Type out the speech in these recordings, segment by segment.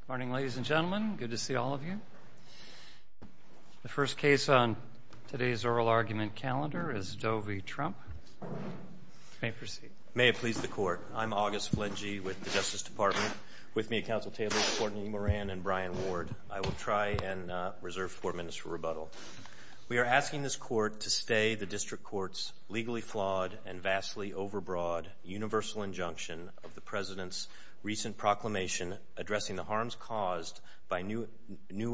Good morning, ladies and gentlemen. Good to see all of you. The first case on today's oral argument calendar is Doe v. Trump. You may proceed. May it please the Court, I'm August Flegge with the Justice Department. With me at Council tables are Courtney Moran and Brian Ward. I will try and reserve four minutes for rebuttal. We are asking this Court to stay the District Court's legally flawed and vastly overbroad universal injunction of the President's recent proclamation addressing the harms caused by new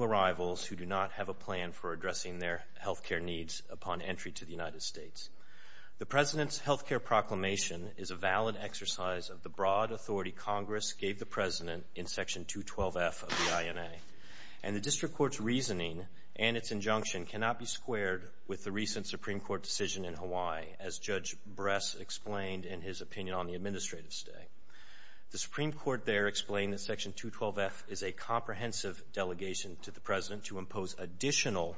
arrivals who do not have a plan for addressing their health care needs upon entry to the United States. The President's health care proclamation is a valid exercise of the broad authority Congress gave the President in Section 212F of the INA, and the District Court's reasoning and its injunction cannot be squared with the recent Supreme Court decision in Hawaii, as Judge Bress explained in his opinion on the administrative stay. The Supreme Court there explained that Section 212F is a comprehensive delegation to the President to impose additional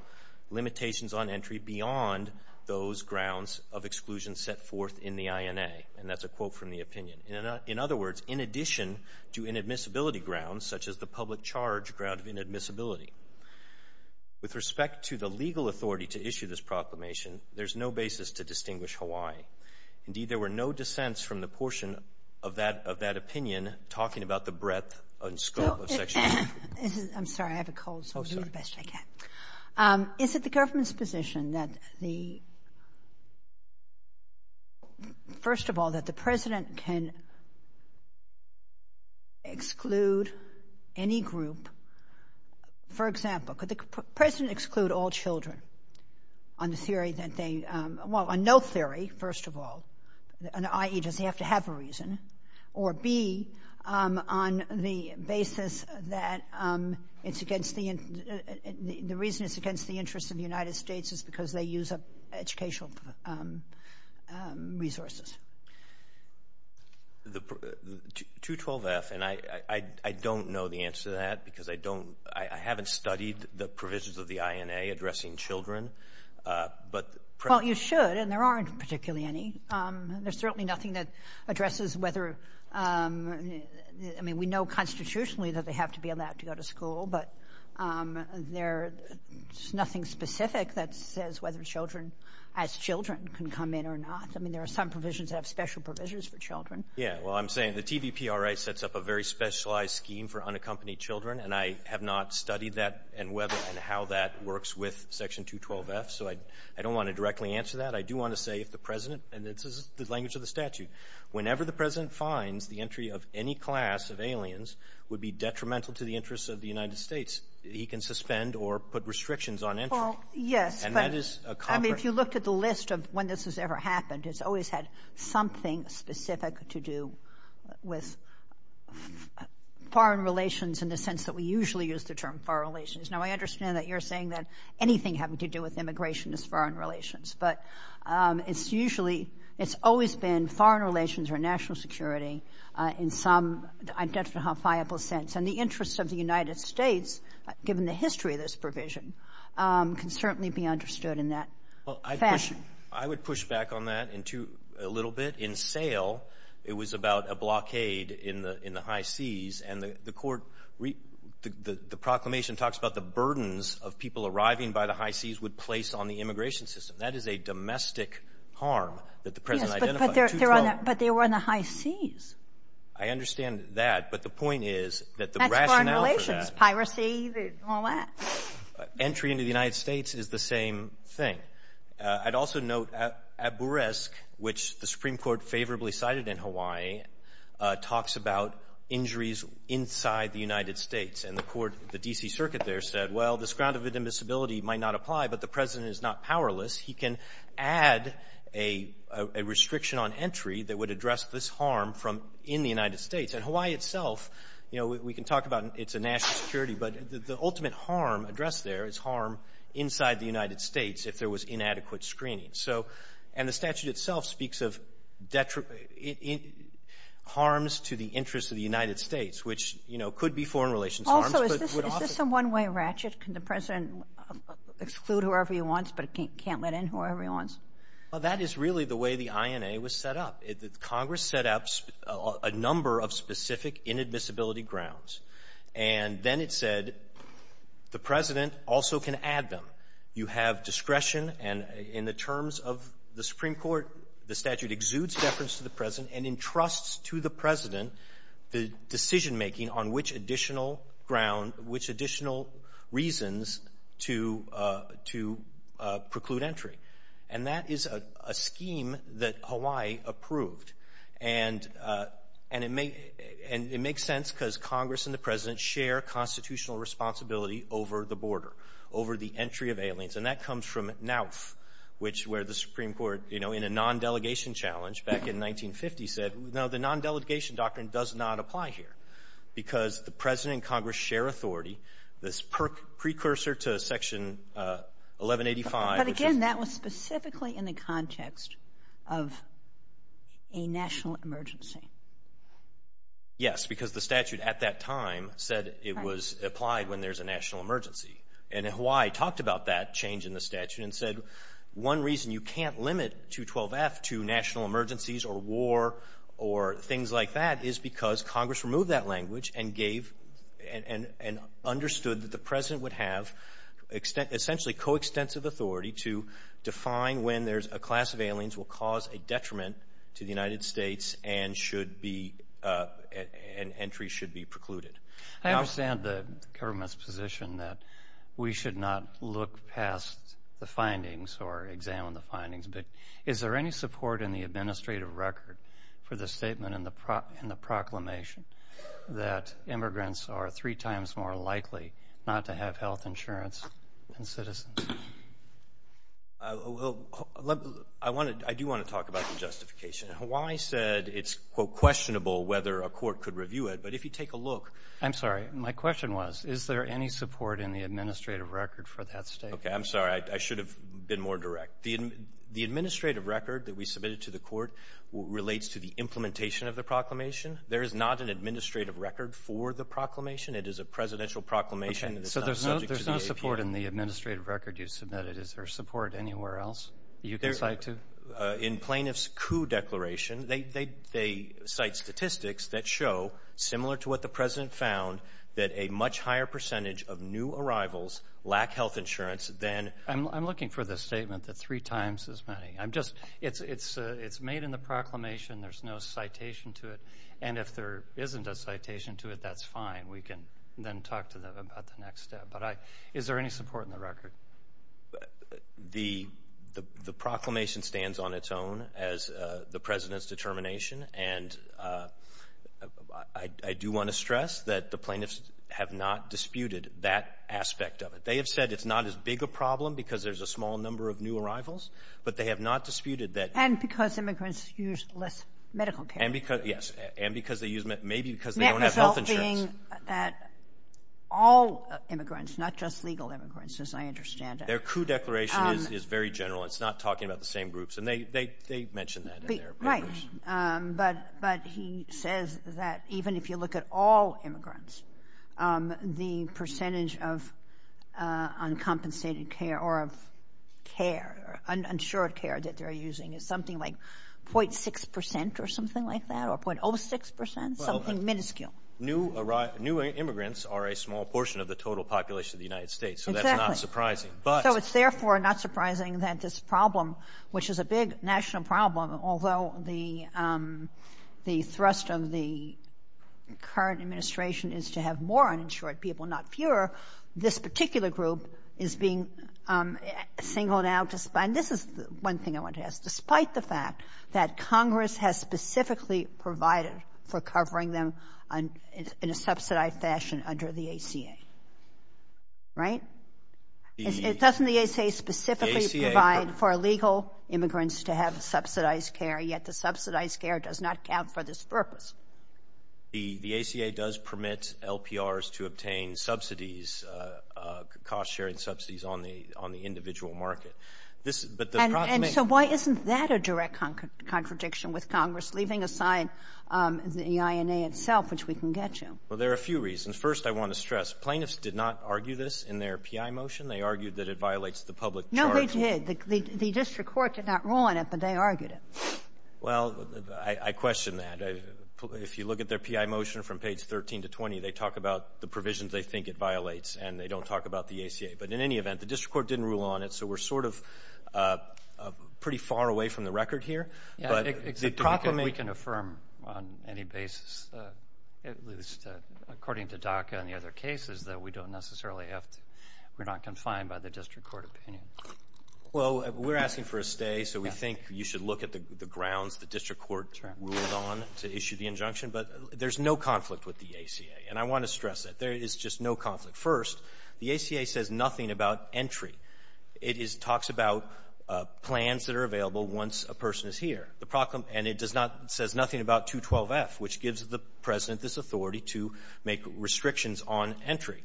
limitations on entry beyond those grounds of exclusion set forth in the INA, and that's a quote from the opinion. In other words, in addition to inadmissibility grounds, such as the public charge ground of inadmissibility, with respect to the legal authority to issue this proclamation, there's no basis to distinguish Hawaii. Indeed, there were no dissents from the portion of that opinion talking about the breadth and scope of Section 212F. I'm sorry, I have a cold, so I'll do the best I can. Is it the government's position that the, first of all, that the President can exclude any group For example, could the President exclude all children on the theory that they, well, on no theory, first of all, i.e., does he have to have a reason, or B, on the basis that it's against the, the reason it's against the interests of the United States is because they use up educational resources? The, 212F, and I don't know the answer to that because I don't, I haven't studied the provisions of the INA addressing children, but Well, you should, and there aren't particularly any. There's certainly nothing that addresses whether, I mean, we know constitutionally that they have to be allowed to go to school, but there's nothing specific that says whether children as children can come in or not. I mean, there are some provisions that have special provisions for children. Yeah. Well, I'm saying the TVPRA sets up a very specialized scheme for unaccompanied children, and I have not studied that and whether and how that works with Section 212F, so I, I don't want to directly answer that. I do want to say if the President, and this is the language of the statute, whenever the President finds the entry of any class of aliens would be detrimental to the interests of the United States, he can suspend or put restrictions on entry. Well, yes, but And that is a common I mean, if you looked at the list of when this has ever happened, it's always had something specific to do with foreign relations in the sense that we usually use the term foreign relations. Now, I understand that you're saying that anything having to do with immigration is foreign relations, but it's usually, it's always been foreign relations or national security in some identifiable sense, and the interests of the United States, given the history of this provision, can certainly be understood in that fashion. Well, I would push back on that a little bit. In SAIL, it was about a blockade in the high seas, and the court, the proclamation talks about the burdens of people arriving by the high seas would place on the immigration system. That is a domestic harm that the President identified. Yes, but they were on the high seas. I understand that, but the point is that the rationale for that That's foreign relations, piracy and all that. Entry into the United States is the same thing. I'd also note at Buresk, which the Supreme Court favorably cited in Hawaii, talks about injuries inside the United States, and the court, the D.C. Circuit there said, well, this ground of admissibility might not apply, but the President is not powerless. He can add a restriction on entry that would address this harm in the United States. And Hawaii itself, you know, we can talk about it's a national security, but the ultimate harm addressed there is harm inside the United States if there was inadequate screening. So and the statute itself speaks of harms to the interests of the United States, which, you know, could be foreign relations harms, but would often Also, is this a one-way ratchet? Can the President exclude whoever he wants, but can't let in whoever he wants? Well, that is really the way the INA was set up. Congress set up a number of specific inadmissibility grounds, and then it said the President also can add them. You have discretion, and in the terms of the Supreme Court, the statute exudes deference to the President and entrusts to the President the decision-making on which additional ground, which additional reasons to preclude entry. And that is a scheme that Hawaii approved. And it makes sense because Congress and the President share constitutional responsibility over the border, over the entry of aliens. And that comes from NAWF, which where the Supreme Court, you know, in a non-delegation challenge back in 1950 said, no, the non-delegation doctrine does not apply here, because the President and Congress share authority. This precursor to Section 1185. But again, that was specifically in the context of a national emergency. Yes, because the statute at that time said it was applied when there's a national emergency. And Hawaii talked about that change in the statute and said, one reason you can't limit 212F to national emergencies or war or things like that is because Congress removed that language and understood that the President would have essentially coextensive authority to define when there's a class of aliens will cause a detriment to the United States and should be, and entry should be precluded. I understand the government's position that we should not look past the findings or examine the findings, but is there any support in the administrative record for the statement in the proclamation that immigrants are three times more likely not to have health insurance than citizens? Well, I do want to talk about the justification. Hawaii said it's, quote, questionable whether a court could review it, but if you take a look. I'm sorry. My question was, is there any support in the administrative record for that statement? Okay, I'm sorry. I should have been more direct. The administrative record that we submitted to the court relates to the implementation of the proclamation. There is not an administrative record for the proclamation. It is a presidential proclamation. So there's no support in the administrative record you submitted. Is there support anywhere else you can cite to? In plaintiff's coup declaration, they cite statistics that show, similar to what the President found, that a much higher percentage of new arrivals lack health insurance than... I'm looking for the statement that three times as many. It's made in the proclamation. There's no citation to it, and if there isn't a citation to it, that's fine. We can then talk to them about the next step. But is there any support in the record? The proclamation stands on its own as the President's determination, and I do want to stress that the plaintiffs have not disputed that aspect of it. They have said it's not as big a problem because there's a small number of new arrivals, but they have not disputed that... And because immigrants use less medical care. Yes, and because they use... Because they don't have health insurance. The net result being that all immigrants, not just legal immigrants, as I understand it... Their coup declaration is very general. It's not talking about the same groups, and they mention that in their... Right, but he says that even if you look at all immigrants, the percentage of uncompensated care or of care, uninsured care that they're using is something like 0.6 percent or something like that, or 0.06 percent, something minuscule. Well, new immigrants are a small portion of the total population of the United States. Exactly. So that's not surprising, but... So it's therefore not surprising that this problem, which is a big national problem, although the thrust of the current administration is to have more uninsured people, not fewer, this particular group is being singled out. And this is one thing I want to ask. Despite the fact that Congress has specifically provided for covering them in a subsidized fashion under the ACA, right? Doesn't the ACA specifically provide for legal immigrants to have subsidized care, yet the subsidized care does not count for this purpose? The ACA does permit LPRs to obtain subsidies, cost-sharing subsidies, on the individual market. But the problem is... And so why isn't that a direct contradiction with Congress, leaving aside the INA itself, which we can get to? Well, there are a few reasons. First, I want to stress, plaintiffs did not argue this in their PI motion. They argued that it violates the public charge. No, they did. The district court did not rule on it, but they argued it. Well, I question that. If you look at their PI motion from page 13 to 20, they talk about the provisions they think it violates, and they don't talk about the ACA. But in any event, the district court didn't rule on it, so we're sort of pretty far away from the record here. Yeah, we can affirm on any basis, at least according to DACA and the other cases, that we don't necessarily have to... We're not confined by the district court opinion. Well, we're asking for a stay, so we think you should look at the grounds the district court ruled on to issue the injunction. But there's no conflict with the ACA, and I want to stress that. There is just no conflict. First, the ACA says nothing about entry. It talks about plans that are available once a person is here, and it does not say nothing about 212F, which gives the President this authority to make restrictions on entry.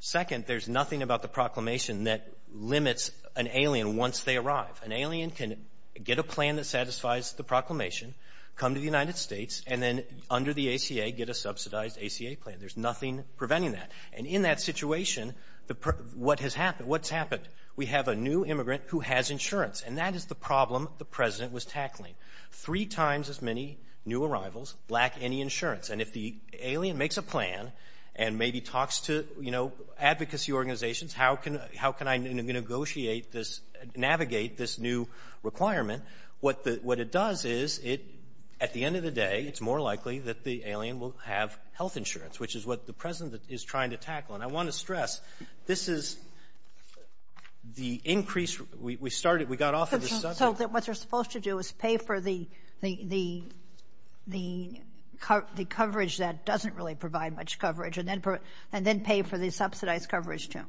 Second, there's nothing about the proclamation that limits an alien once they arrive. An alien can get a plan that satisfies the proclamation, come to the United States, and then under the ACA get a subsidized ACA plan. There's nothing preventing that. And in that situation, what has happened? What's happened? We have a new immigrant who has insurance, and that is the problem the President was tackling. Three times as many new arrivals lack any insurance. And if the alien makes a plan and maybe talks to advocacy organizations, how can I negotiate this, navigate this new requirement, what it does is, at the end of the day, it's more likely that the alien will have health insurance, which is what the President is trying to tackle. And I want to stress, this is the increase we started. We got off of the subject. So what they're supposed to do is pay for the coverage that doesn't really provide much coverage and then pay for the subsidized coverage, too.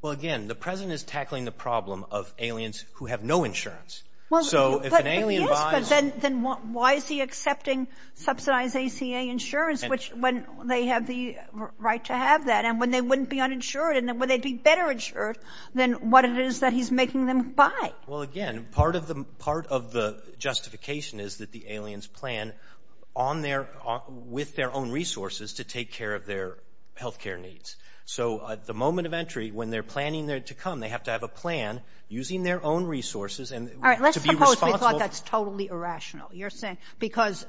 Well, again, the President is tackling the problem of aliens who have no insurance. So if an alien buys — Yes, but then why is he accepting subsidized ACA insurance, when they have the right to have that and when they wouldn't be uninsured and when they'd be better insured than what it is that he's making them buy? Well, again, part of the justification is that the aliens plan on their — with their own resources to take care of their health care needs. So at the moment of entry, when they're planning to come, they have to have a plan using their own resources to be responsible. All right, let's suppose we thought that's totally irrational. Because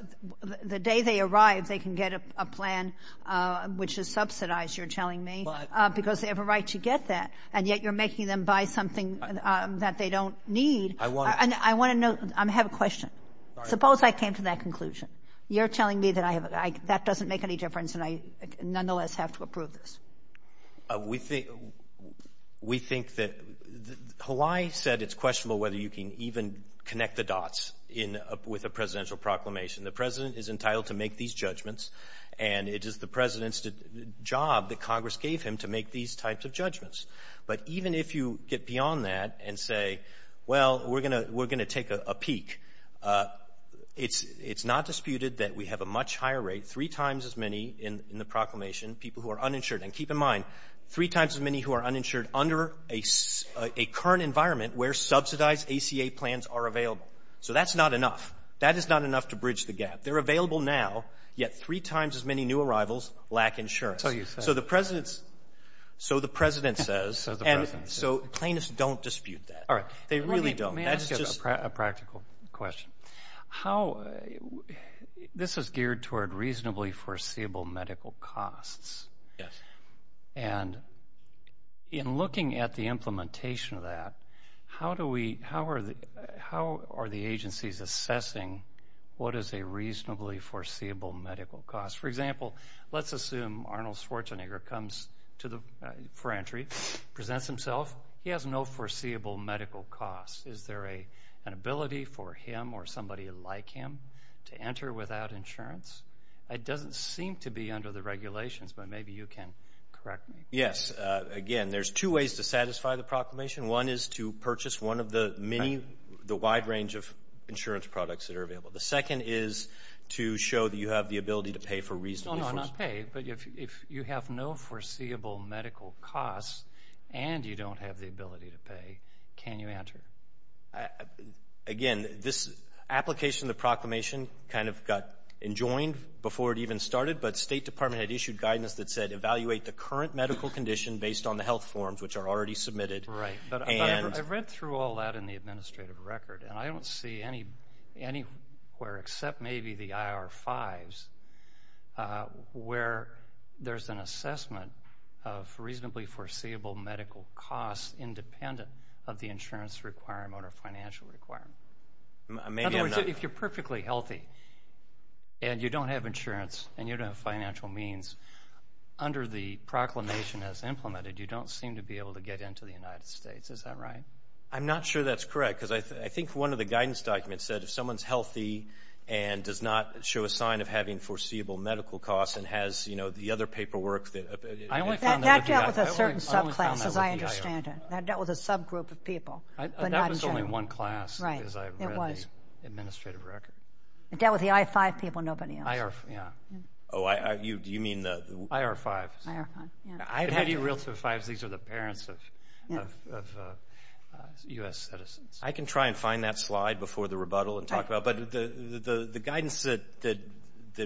the day they arrive, they can get a plan, which is subsidized, you're telling me, because they have a right to get that. And yet you're making them buy something that they don't need. I want to know. I have a question. Suppose I came to that conclusion. You're telling me that that doesn't make any difference and I nonetheless have to approve this. We think that — Hawaii said it's questionable whether you can even connect the dots with a presidential proclamation. The president is entitled to make these judgments, and it is the president's job that Congress gave him to make these types of judgments. But even if you get beyond that and say, well, we're going to take a peek, it's not disputed that we have a much higher rate, three times as many in the proclamation, people who are uninsured. And keep in mind, three times as many who are uninsured under a current environment where subsidized ACA plans are available. So that's not enough. That is not enough to bridge the gap. They're available now, yet three times as many new arrivals lack insurance. So you say. So the president says. So the president says. And so plaintiffs don't dispute that. All right. They really don't. May I ask you a practical question? This is geared toward reasonably foreseeable medical costs. Yes. And in looking at the implementation of that, how are the agencies assessing what is a reasonably foreseeable medical cost? For example, let's assume Arnold Schwarzenegger comes for entry, presents himself. He has no foreseeable medical cost. Is there an ability for him or somebody like him to enter without insurance? It doesn't seem to be under the regulations, but maybe you can correct me. Yes. Again, there's two ways to satisfy the proclamation. One is to purchase one of the many, the wide range of insurance products that are available. The second is to show that you have the ability to pay for reasonably foreseeable. No, no, not pay. Again, this application of the proclamation kind of got enjoined before it even started, but State Department had issued guidance that said, evaluate the current medical condition based on the health forms, which are already submitted. Right. I've read through all that in the administrative record, and I don't see anywhere except maybe the IR-5s where there's an assessment of reasonably foreseeable medical costs independent of the insurance requirement or financial requirement. In other words, if you're perfectly healthy and you don't have insurance and you don't have financial means, under the proclamation as implemented, you don't seem to be able to get into the United States. Is that right? I'm not sure that's correct because I think one of the guidance documents said if someone's healthy and does not show a sign of having foreseeable medical costs and has the other paperwork. That dealt with a certain subclass, as I understand it. That dealt with a subgroup of people, but not in general. That was only one class as I read the administrative record. It dealt with the IR-5 people and nobody else. IR-5, yeah. Oh, do you mean the? IR-5s. IR-5, yeah. I've had you reel to the 5s. These are the parents of U.S. citizens. I can try and find that slide before the rebuttal and talk about it, but the guidance that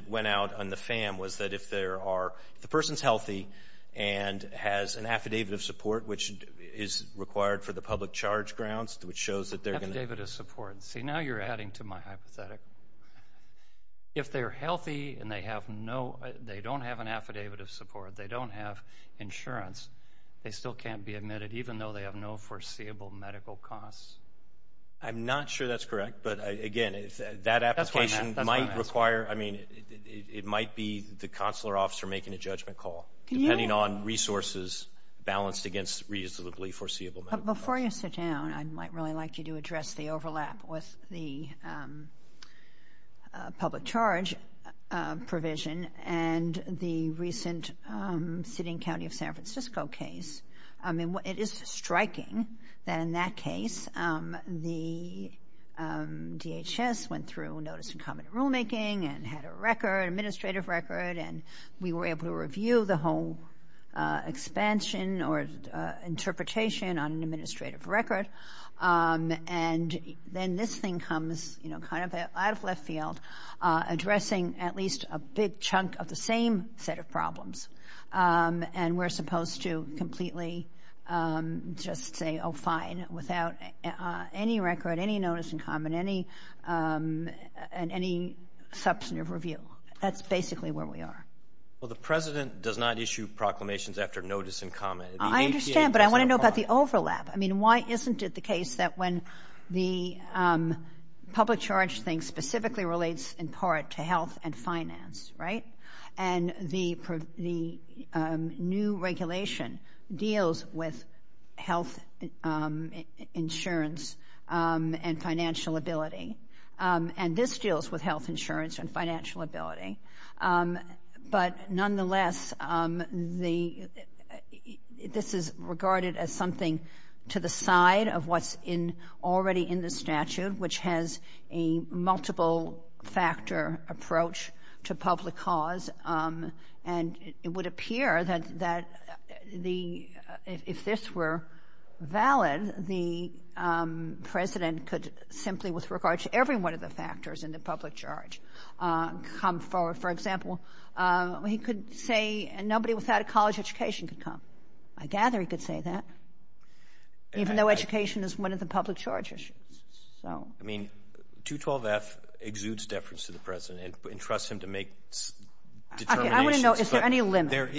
went out on the FAM was that if the person's healthy and has an affidavit of support, which is required for the public charge grounds, which shows that they're going to. Affidavit of support. See, now you're adding to my hypothetic. If they're healthy and they don't have an affidavit of support, they don't have insurance, they still can't be admitted, even though they have no foreseeable medical costs. I'm not sure that's correct, but, again, that application might require. I mean, it might be the consular officer making a judgment call, depending on resources balanced against reasonably foreseeable medical costs. Before you sit down, I might really like you to address the overlap with the public charge provision and the recent sitting county of San Francisco case. I mean, it is striking that, in that case, the DHS went through notice and comment rulemaking and had an administrative record, and we were able to review the whole expansion or interpretation on an administrative record. And then this thing comes kind of out of left field, addressing at least a big chunk of the same set of problems, and we're supposed to completely just say, oh, fine, without any record, any notice in common, and any substantive review. That's basically where we are. Well, the President does not issue proclamations after notice and comment. I understand, but I want to know about the overlap. I mean, why isn't it the case that when the public charge thing specifically relates in part to health and finance, right, and the new regulation deals with health insurance and financial ability, and this deals with health insurance and financial ability, but nonetheless this is regarded as something to the side of what's already in the statute, which has a multiple-factor approach to public cause, and it would appear that if this were valid, the President could simply, with regard to every one of the factors in the public charge, come forward. For example, he could say nobody without a college education could come. I gather he could say that, even though education is one of the public charge issues. I mean, 212F exudes deference to the President and entrusts him to make determinations. I want to know, is there any limit?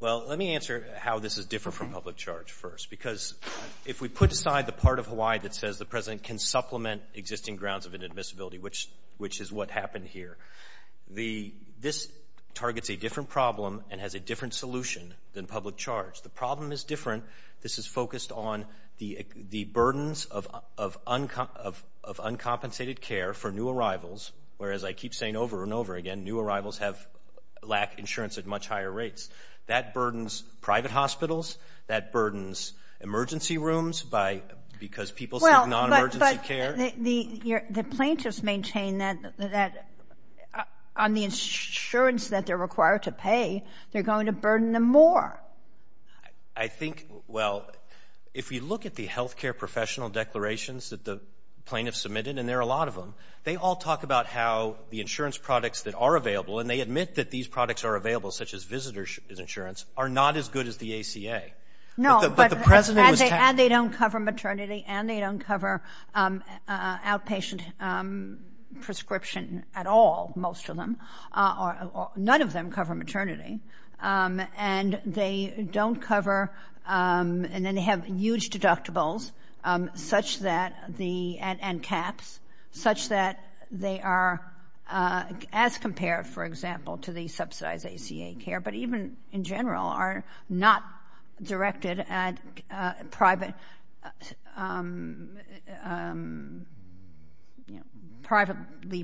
Well, let me answer how this is different from public charge first, because if we put aside the part of Hawaii that says the President can supplement existing grounds of inadmissibility, which is what happened here, this targets a different problem and has a different solution than public charge. The problem is different. This is focused on the burdens of uncompensated care for new arrivals, whereas I keep saying over and over again new arrivals lack insurance at much higher rates. That burdens private hospitals. That burdens emergency rooms because people seek non-emergency care. Well, but the plaintiffs maintain that on the insurance that they're required to pay, they're going to burden them more. I think, well, if you look at the health care professional declarations that the plaintiffs submitted, and there are a lot of them, they all talk about how the insurance products that are available, and they admit that these products are available, such as visitor's insurance, are not as good as the ACA. No, but they don't cover maternity, and they don't cover outpatient prescription at all, most of them. None of them cover maternity, and they don't cover and then they have huge deductibles such that the end caps, such that they are as compared, for example, to the subsidized ACA care, but even in general are not directed at privately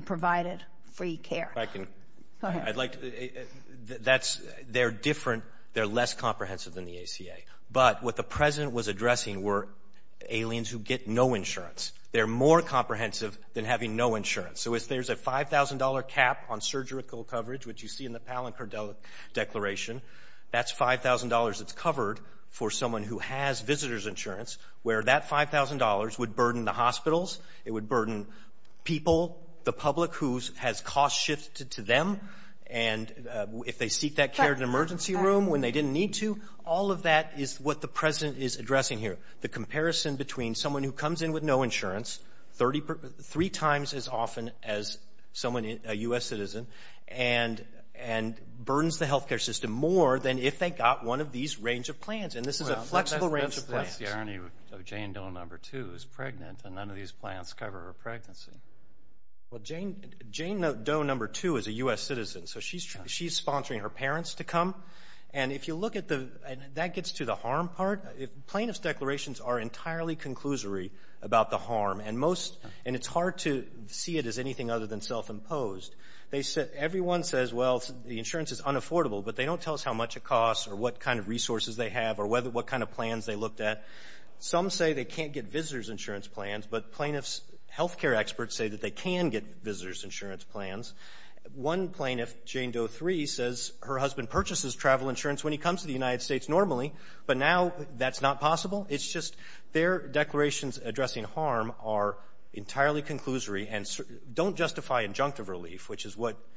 provided free care. If I can. Go ahead. They're different. They're less comprehensive than the ACA. But what the President was addressing were aliens who get no insurance. They're more comprehensive than having no insurance. So if there's a $5,000 cap on surgical coverage, which you see in the Palin-Cordell declaration, that's $5,000 that's covered for someone who has visitor's insurance, where that $5,000 would burden the hospitals, it would burden people, the public who has costs shifted to them, and if they seek that care in an emergency room when they didn't need to. All of that is what the President is addressing here, the comparison between someone who comes in with no insurance, three times as often as someone, a U.S. citizen, and burdens the health care system more than if they got one of these range of plans. And this is a flexible range of plans. That's the irony of Jane Doe No. 2 is pregnant, and none of these plans cover her pregnancy. Well, Jane Doe No. 2 is a U.S. citizen, so she's sponsoring her parents to come. And if you look at the – that gets to the harm part. Plaintiff's declarations are entirely conclusory about the harm, and it's hard to see it as anything other than self-imposed. Everyone says, well, the insurance is unaffordable, but they don't tell us how much it costs or what kind of resources they have or what kind of plans they looked at. Some say they can't get visitor's insurance plans, but plaintiff's health care experts say that they can get visitor's insurance plans. One plaintiff, Jane Doe No. 3, says her husband purchases travel insurance when he comes to the United States normally, but now that's not possible. It's just their declarations addressing harm are entirely conclusory and don't justify injunctive relief, which is what –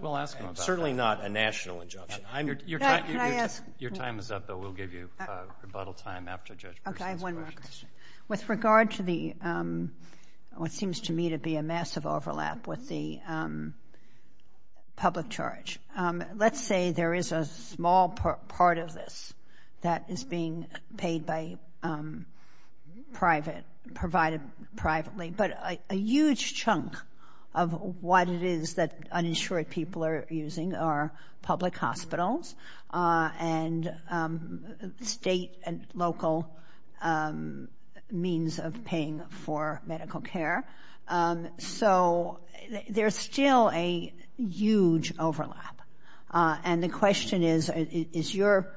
We'll ask them about that. Certainly not a national injunction. Your time is up, though. We'll give you rebuttal time after Judge Persons questions. Okay, I have one more question. With regard to the – what seems to me to be a massive overlap with the public charge, let's say there is a small part of this that is being paid by private – provided privately, but a huge chunk of what it is that uninsured people are using are public hospitals and state and local means of paying for medical care. So there's still a huge overlap, and the question is, is your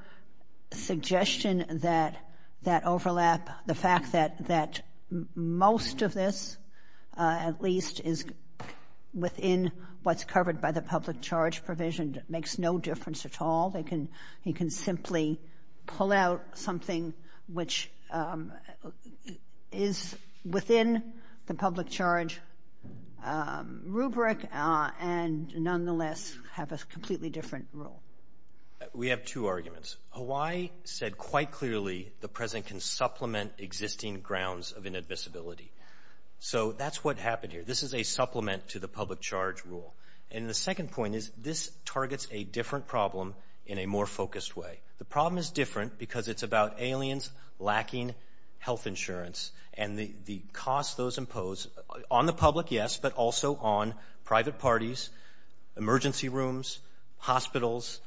suggestion that that overlap, the fact that most of this at least is within what's covered by the public charge provision makes no difference at all? He can simply pull out something which is within the public charge rubric and nonetheless have a completely different rule. We have two arguments. Hawaii said quite clearly the President can supplement existing grounds of inadmissibility. So that's what happened here. This is a supplement to the public charge rule. And the second point is this targets a different problem in a more focused way. The problem is different because it's about aliens lacking health insurance and the cost those impose on the public, yes, but also on private parties, emergency rooms, hospitals.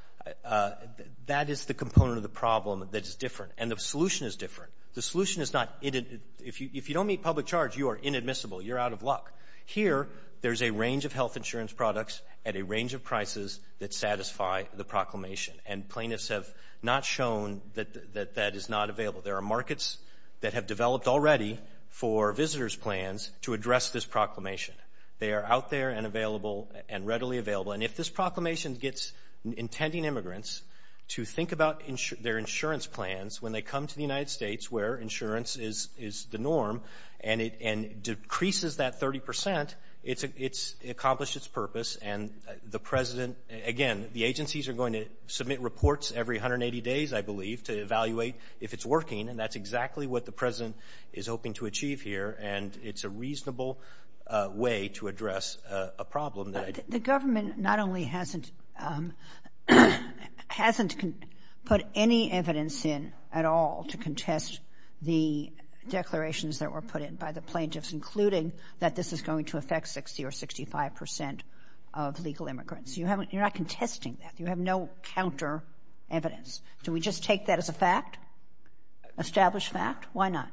That is the component of the problem that is different, and the solution is different. The solution is not – if you don't meet public charge, you are inadmissible. You're out of luck. Here there's a range of health insurance products at a range of prices that satisfy the proclamation, and plaintiffs have not shown that that is not available. There are markets that have developed already for visitors' plans to address this proclamation. They are out there and available and readily available. And if this proclamation gets intending immigrants to think about their insurance plans when they come to the United States where insurance is the norm and it decreases that 30 percent, it's accomplished its purpose. And the President – again, the agencies are going to submit reports every 180 days, I believe, to evaluate if it's working, and that's exactly what the President is hoping to achieve here. And it's a reasonable way to address a problem. The government not only hasn't put any evidence in at all to contest the declarations that were put in by the plaintiffs, including that this is going to affect 60 or 65 percent of legal immigrants. You're not contesting that. You have no counter evidence. Do we just take that as a fact, established fact? Why not?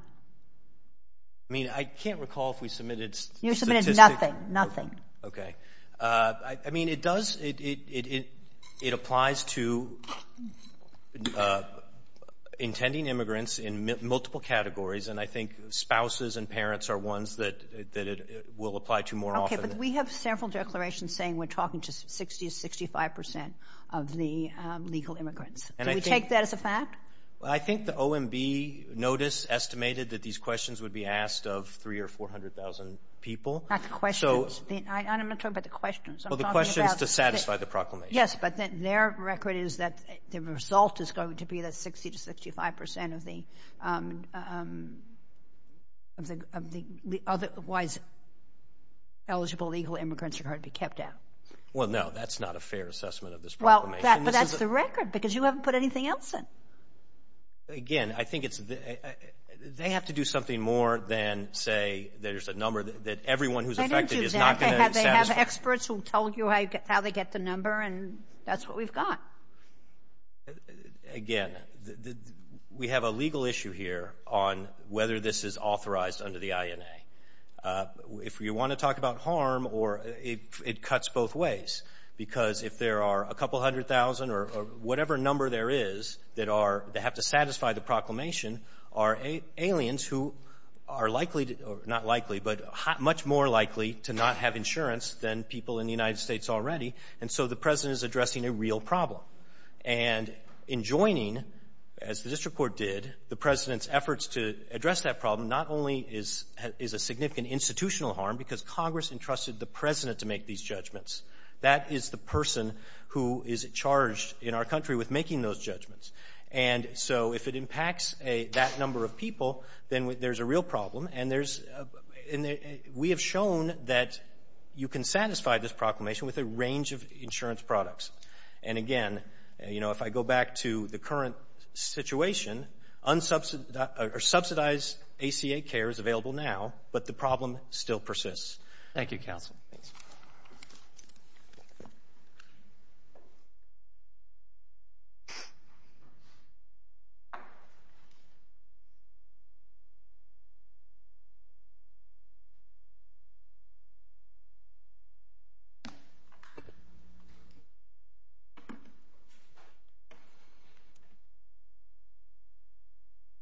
I mean, I can't recall if we submitted statistics. Nothing, nothing. Okay. I mean, it does – it applies to intending immigrants in multiple categories, and I think spouses and parents are ones that it will apply to more often. Okay. But we have several declarations saying we're talking to 60 to 65 percent of the legal immigrants. Do we take that as a fact? I think the OMB notice estimated that these questions would be asked of 300,000 or 400,000 people. Not the questions. I'm not talking about the questions. Well, the questions to satisfy the proclamation. Yes, but their record is that the result is going to be that 60 to 65 percent of the otherwise eligible legal immigrants are going to be kept out. Well, no, that's not a fair assessment of this proclamation. But that's the record because you haven't put anything else in. Again, I think it's – they have to do something more than say there's a number that everyone who's affected is not going to satisfy. They don't do that. They have experts who tell you how they get the number, and that's what we've got. Again, we have a legal issue here on whether this is authorized under the INA. If you want to talk about harm, it cuts both ways because if there are a couple hundred thousand or whatever number there is that have to satisfy the proclamation, aliens who are likely to – not likely, but much more likely to not have insurance than people in the United States already. And so the President is addressing a real problem. And in joining, as the district court did, the President's efforts to address that problem not only is a significant institutional harm because Congress entrusted the President to make these judgments. That is the person who is charged in our country with making those judgments. And so if it impacts that number of people, then there's a real problem. And we have shown that you can satisfy this proclamation with a range of insurance products. And, again, you know, if I go back to the current situation, subsidized ACA care is available now, but the problem still persists. Thank you, Counsel. Thanks.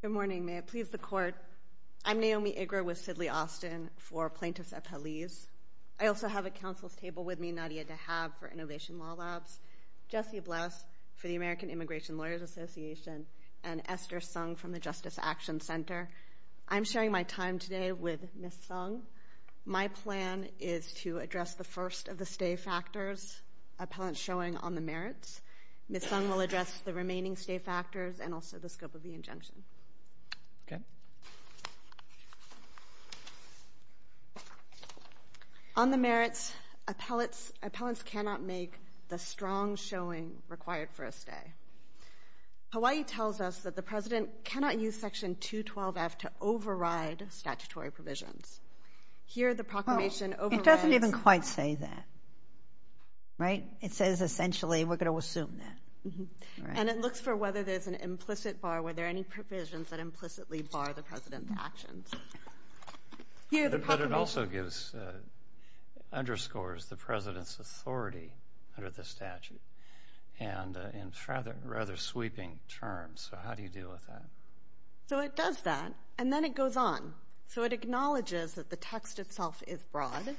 Good morning. I'm Naomi Iger with Sidley Austin for Plaintiffs Appellees. I also have at counsel's table with me Nadia Dahab for Innovation Law Labs, Jessie Bless for the American Immigration Lawyers Association, and Esther Sung from the Justice Action Center. I'm sharing my time today with Ms. Sung. My plan is to address the first of the stay factors appellants showing on the merits. Ms. Sung will address the remaining stay factors and also the scope of the injunction. Okay. On the merits, appellants cannot make the strong showing required for a stay. Hawaii tells us that the President cannot use Section 212F to override statutory provisions. Here the proclamation overrides. It doesn't even quite say that, right? It says essentially we're going to assume that. And it looks for whether there's an implicit bar, were there any provisions that implicitly bar the President's actions. Here the proclamation. But it also gives, underscores the President's authority under the statute and in rather sweeping terms. So how do you deal with that? So it does that, and then it goes on. So it acknowledges that the text itself is broad,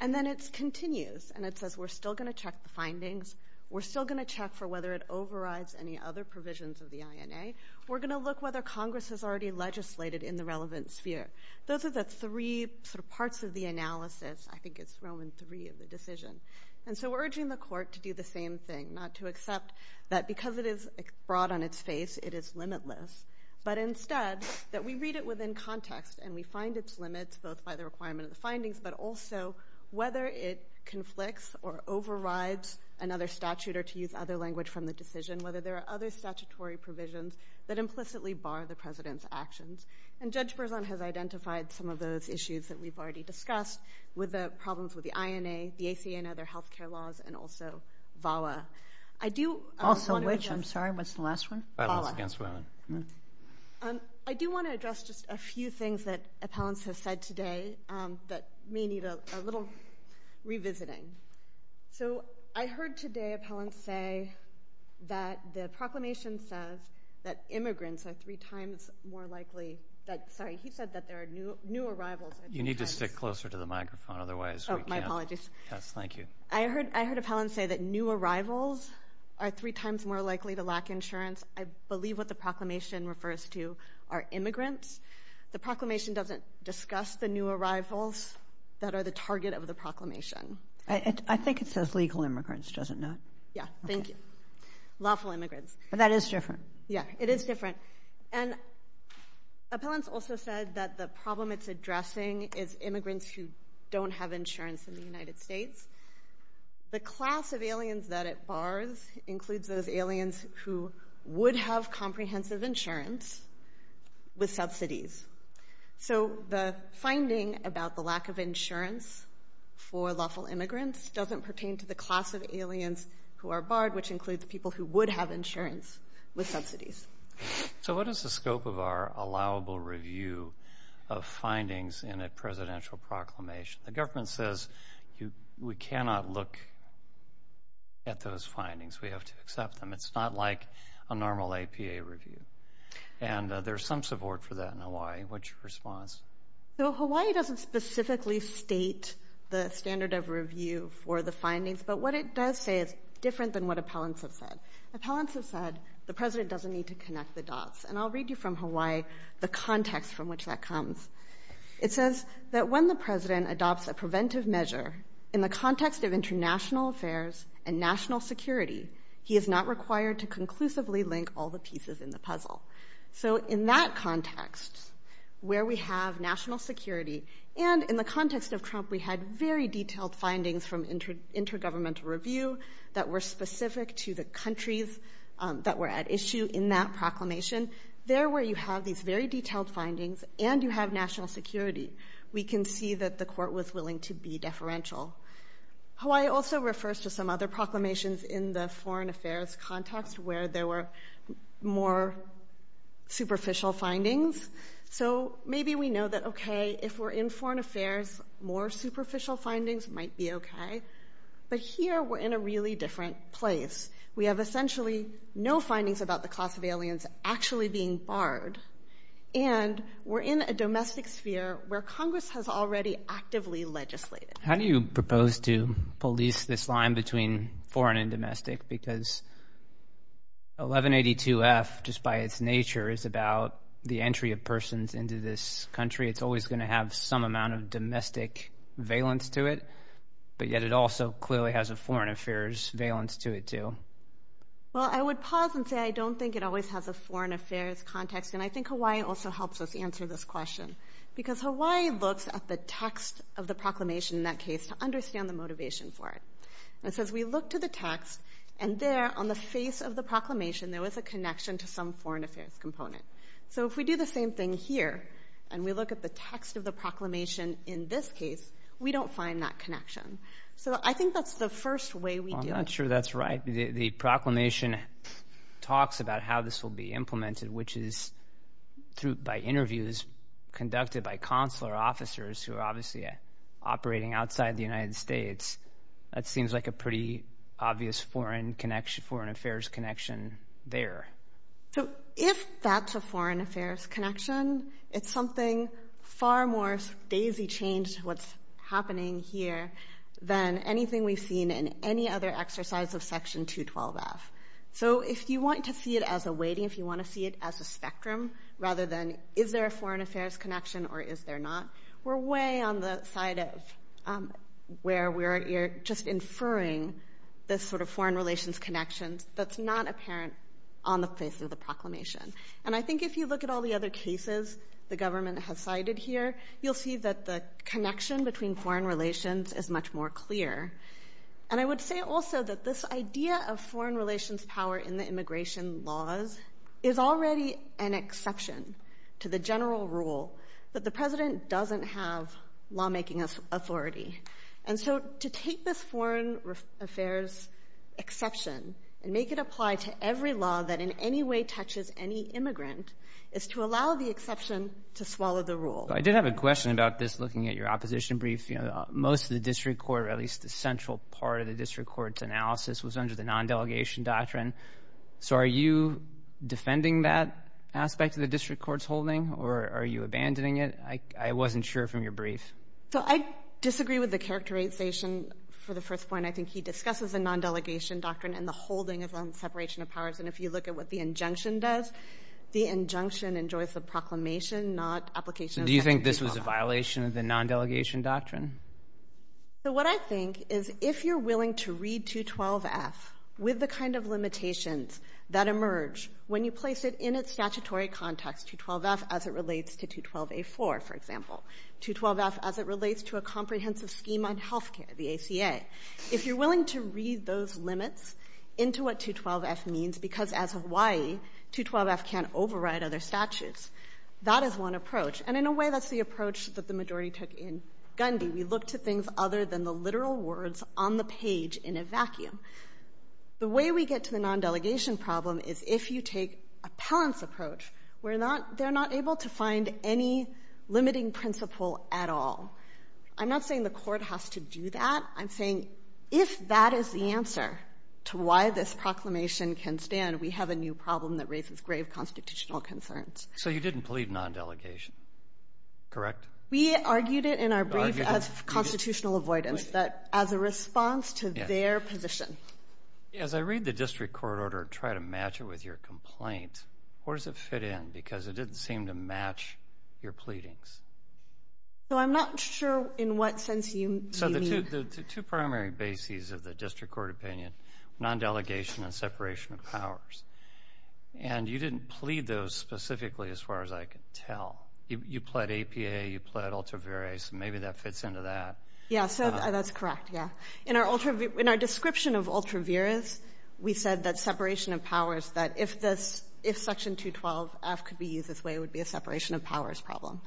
and then it continues, and it says we're still going to check the findings, we're still going to check for whether it overrides any other provisions of the INA, we're going to look whether Congress has already legislated in the relevant sphere. Those are the three parts of the analysis. I think it's Roman III of the decision. And so we're urging the court to do the same thing, not to accept that because it is broad on its face it is limitless, but instead that we read it within context and we find its limits, both by the requirement of the findings, but also whether it conflicts or overrides another statute or to use other language from the decision, whether there are other statutory provisions that implicitly bar the President's actions. And Judge Berzon has identified some of those issues that we've already discussed with the problems with the INA, the ACA and other health care laws, and also VAWA. Also which? I'm sorry, what's the last one? Violence against women. I do want to address just a few things that appellants have said today that may need a little revisiting. So I heard today appellants say that the proclamation says that immigrants are three times more likely that, sorry, he said that there are new arrivals. You need to stick closer to the microphone, otherwise we can't. Oh, my apologies. Yes, thank you. I heard appellants say that new arrivals are three times more likely to lack insurance. I believe what the proclamation refers to are immigrants. The proclamation doesn't discuss the new arrivals that are the target of the proclamation. I think it says legal immigrants, does it not? Yes, thank you. Lawful immigrants. But that is different. Yes, it is different. And appellants also said that the problem it's addressing is immigrants who don't have insurance in the United States. The class of aliens that it bars includes those aliens who would have comprehensive insurance with subsidies. So the finding about the lack of insurance for lawful immigrants doesn't pertain to the class of aliens who are barred, which includes people who would have insurance with subsidies. So what is the scope of our allowable review of findings in a presidential proclamation? The government says we cannot look at those findings. We have to accept them. It's not like a normal APA review. And there's some support for that in Hawaii. What's your response? So Hawaii doesn't specifically state the standard of review for the findings, but what it does say is different than what appellants have said. Appellants have said the president doesn't need to connect the dots. And I'll read you from Hawaii the context from which that comes. It says that when the president adopts a preventive measure in the context of international affairs and national security, he is not required to conclusively link all the pieces in the puzzle. So in that context, where we have national security, and in the context of Trump we had very detailed findings from intergovernmental review that were specific to the countries that were at issue in that proclamation, there where you have these very detailed findings and you have national security, we can see that the court was willing to be deferential. Hawaii also refers to some other proclamations in the foreign affairs context where there were more superficial findings. So maybe we know that, okay, if we're in foreign affairs, more superficial findings might be okay. But here we're in a really different place. We have essentially no findings about the class of aliens actually being barred, and we're in a domestic sphere where Congress has already actively legislated. How do you propose to police this line between foreign and domestic? Because 1182-F, just by its nature, is about the entry of persons into this country. It's always going to have some amount of domestic valence to it, but yet it also clearly has a foreign affairs valence to it too. Well, I would pause and say I don't think it always has a foreign affairs context, and I think Hawaii also helps us answer this question because Hawaii looks at the text of the proclamation in that case to understand the motivation for it. It says we look to the text, and there on the face of the proclamation there was a connection to some foreign affairs component. So if we do the same thing here and we look at the text of the proclamation in this case, we don't find that connection. So I think that's the first way we do it. I'm not sure that's right. The proclamation talks about how this will be implemented, which is by interviews conducted by consular officers who are obviously operating outside the United States. That seems like a pretty obvious foreign affairs connection there. So if that's a foreign affairs connection, it's something far more daisy-changed to what's happening here than anything we've seen in any other exercise of Section 212-F. So if you want to see it as a weighting, if you want to see it as a spectrum, rather than is there a foreign affairs connection or is there not, we're way on the side of where we're just inferring this sort of foreign relations connection that's not apparent on the face of the proclamation. And I think if you look at all the other cases the government has cited here, you'll see that the connection between foreign relations is much more clear. And I would say also that this idea of foreign relations power in the immigration laws is already an exception to the general rule that the president doesn't have lawmaking authority. And so to take this foreign affairs exception and make it apply to every law that in any way touches any immigrant is to allow the exception to swallow the rule. I did have a question about this looking at your opposition brief. Most of the district court, or at least the central part of the district court's analysis, was under the non-delegation doctrine. So are you defending that aspect of the district court's holding, or are you abandoning it? I wasn't sure from your brief. So I disagree with the characterization for the first point. I think he discusses the non-delegation doctrine and the holding of separation of powers. And if you look at what the injunction does, the injunction enjoys the proclamation, So do you think this was a violation of the non-delegation doctrine? So what I think is if you're willing to read 212F with the kind of limitations that emerge when you place it in its statutory context, 212F as it relates to 212A4, for example, 212F as it relates to a comprehensive scheme on health care, the ACA, if you're willing to read those limits into what 212F means, because as of Hawaii, 212F can't override other statutes, that is one approach. And in a way, that's the approach that the majority took in Gundy. We look to things other than the literal words on the page in a vacuum. The way we get to the non-delegation problem is if you take appellant's approach, they're not able to find any limiting principle at all. I'm not saying the Court has to do that. I'm saying if that is the answer to why this proclamation can stand, we have a new problem that raises grave constitutional concerns. So you didn't plead non-delegation, correct? We argued it in our brief as constitutional avoidance, but as a response to their position. As I read the district court order and try to match it with your complaint, where does it fit in? Because it didn't seem to match your pleadings. So I'm not sure in what sense you mean. So the two primary bases of the district court opinion, non-delegation and separation of powers. And you didn't plead those specifically as far as I can tell. You pled APA. You pled ultra-virus. Maybe that fits into that. Yeah, so that's correct, yeah. In our description of ultra-virus, we said that separation of powers, that if Section 212-F could be used this way, it would be a separation of powers problem.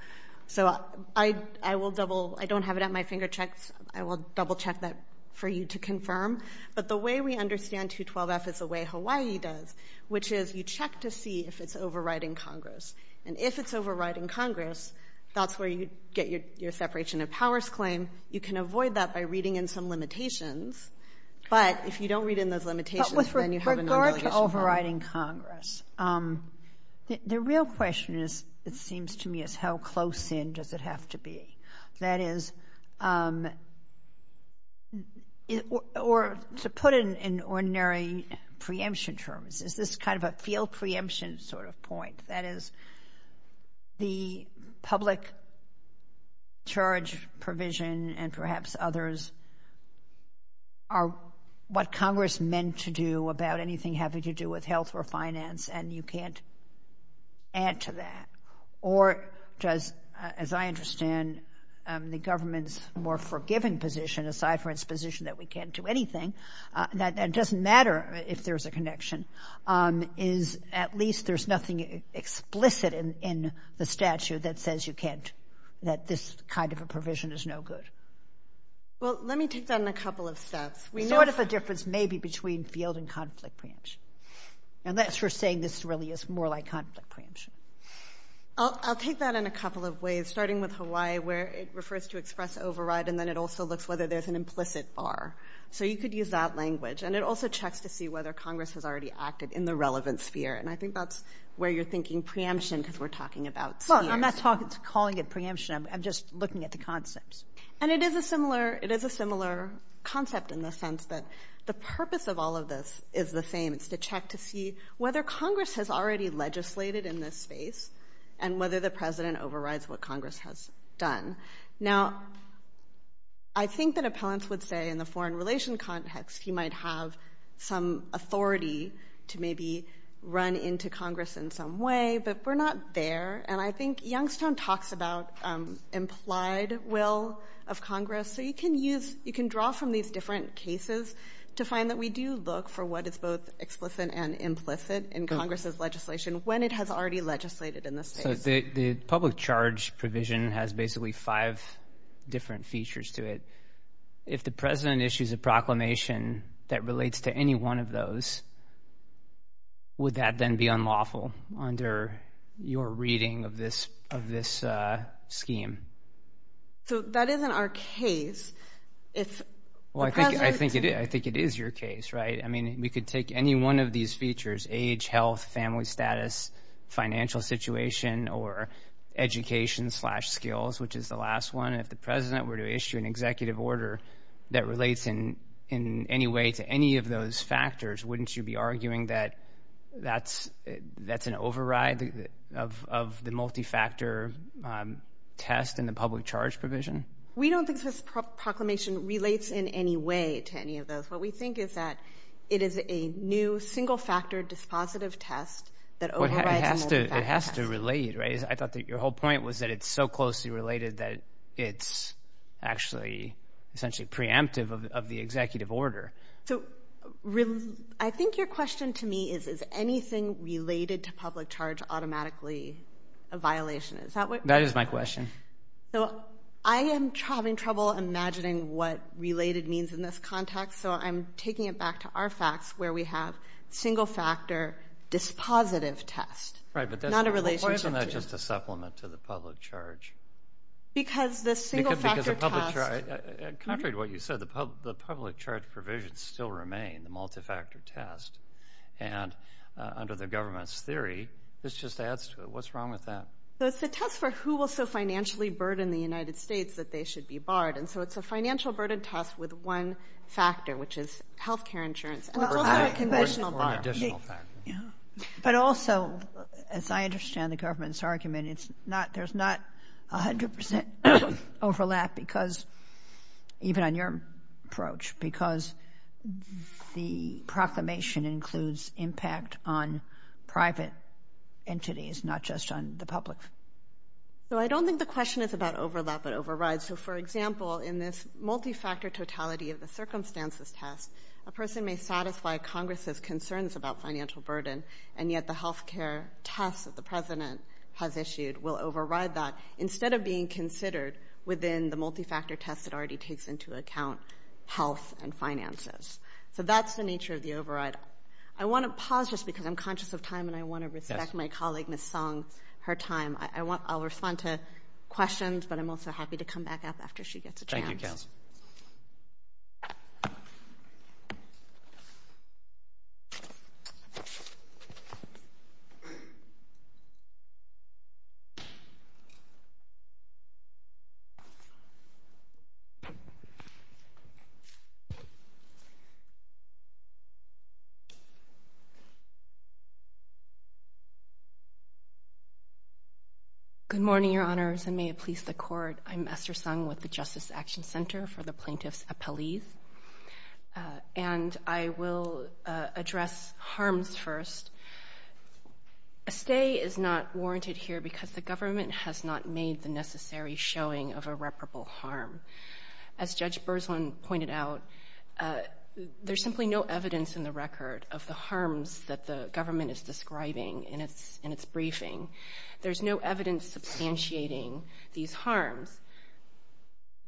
So I will double – I don't have it at my finger checks. I will double-check that for you to confirm. But the way we understand 212-F is the way Hawaii does, which is you check to see if it's overriding Congress. And if it's overriding Congress, that's where you get your separation of powers claim. You can avoid that by reading in some limitations. But if you don't read in those limitations, then you have a non-delegation problem. But with regard to overriding Congress, the real question, it seems to me, is how close in does it have to be? That is, or to put it in ordinary preemption terms, is this kind of a field preemption sort of point? That is, the public charge provision and perhaps others are what Congress meant to do about anything having to do with health or finance, and you can't add to that. Or does, as I understand, the government's more forgiving position, aside from its position that we can't do anything, that it doesn't matter if there's a connection, is at least there's nothing explicit in the statute that says you can't – that this kind of a provision is no good. Well, let me take that on a couple of steps. We know what the difference may be between field and conflict preemption. Unless you're saying this really is more like conflict preemption. I'll take that in a couple of ways, starting with Hawaii, where it refers to express override, and then it also looks whether there's an implicit bar. So you could use that language. And it also checks to see whether Congress has already acted in the relevant sphere. And I think that's where you're thinking preemption because we're talking about spheres. Well, I'm not calling it preemption. I'm just looking at the concepts. And it is a similar concept in the sense that the purpose of all of this is the same. It's to check to see whether Congress has already legislated in this space and whether the president overrides what Congress has done. Now, I think that appellants would say in the foreign relations context he might have some authority to maybe run into Congress in some way, but we're not there. And I think Youngstown talks about implied will of Congress. So you can use – you can draw from these different cases to find that we do look for what is both explicit and implicit in Congress's legislation when it has already legislated in this space. So the public charge provision has basically five different features to it. If the president issues a proclamation that relates to any one of those, would that then be unlawful under your reading of this scheme? So that isn't our case. Well, I think it is your case, right? I mean, we could take any one of these features, age, health, family status, financial situation, or education-slash-skills, which is the last one, and if the president were to issue an executive order that relates in any way to any of those factors, wouldn't you be arguing that that's an override of the multi-factor test in the public charge provision? We don't think this proclamation relates in any way to any of those. What we think is that it is a new, single-factor dispositive test that overrides the multi-factor test. It has to relate, right? I thought that your whole point was that it's so closely related that it's actually essentially preemptive of the executive order. So I think your question to me is, is anything related to public charge automatically a violation? That is my question. I am having trouble imagining what related means in this context, so I'm taking it back to our facts where we have single-factor dispositive test. Right, but isn't that just a supplement to the public charge? Because the single-factor test... Contrary to what you said, the public charge provisions still remain, the multi-factor test, and under the government's theory, this just adds to it. What's wrong with that? It's a test for who will so financially burden the United States that they should be barred, and so it's a financial burden test with one factor, which is health care insurance. It's also a conventional bar. But also, as I understand the government's argument, there's not 100% overlap because, even on your approach, because the proclamation includes impact on private entities, not just on the public. So I don't think the question is about overlap but override. So, for example, in this multi-factor totality of the circumstances test, a person may satisfy Congress's concerns about financial burden, and yet the health care test that the President has issued will override that instead of being considered within the multi-factor test that already takes into account health and finances. So that's the nature of the override. I want to pause just because I'm conscious of time and I want to respect my colleague, Ms. Song, her time. I'll respond to questions, but I'm also happy to come back up after she gets a chance. Thank you, Kels. Good morning, Your Honors, and may it please the Court. I'm Esther Song with the Justice Action Center for the Plaintiffs Appellees. And I will address harms first. A stay is not warranted here because the government has not made the necessary showing of irreparable harm. As Judge Berzlin pointed out, there's simply no evidence in the record of the harms that the government is describing in its briefing. There's no evidence substantiating these harms.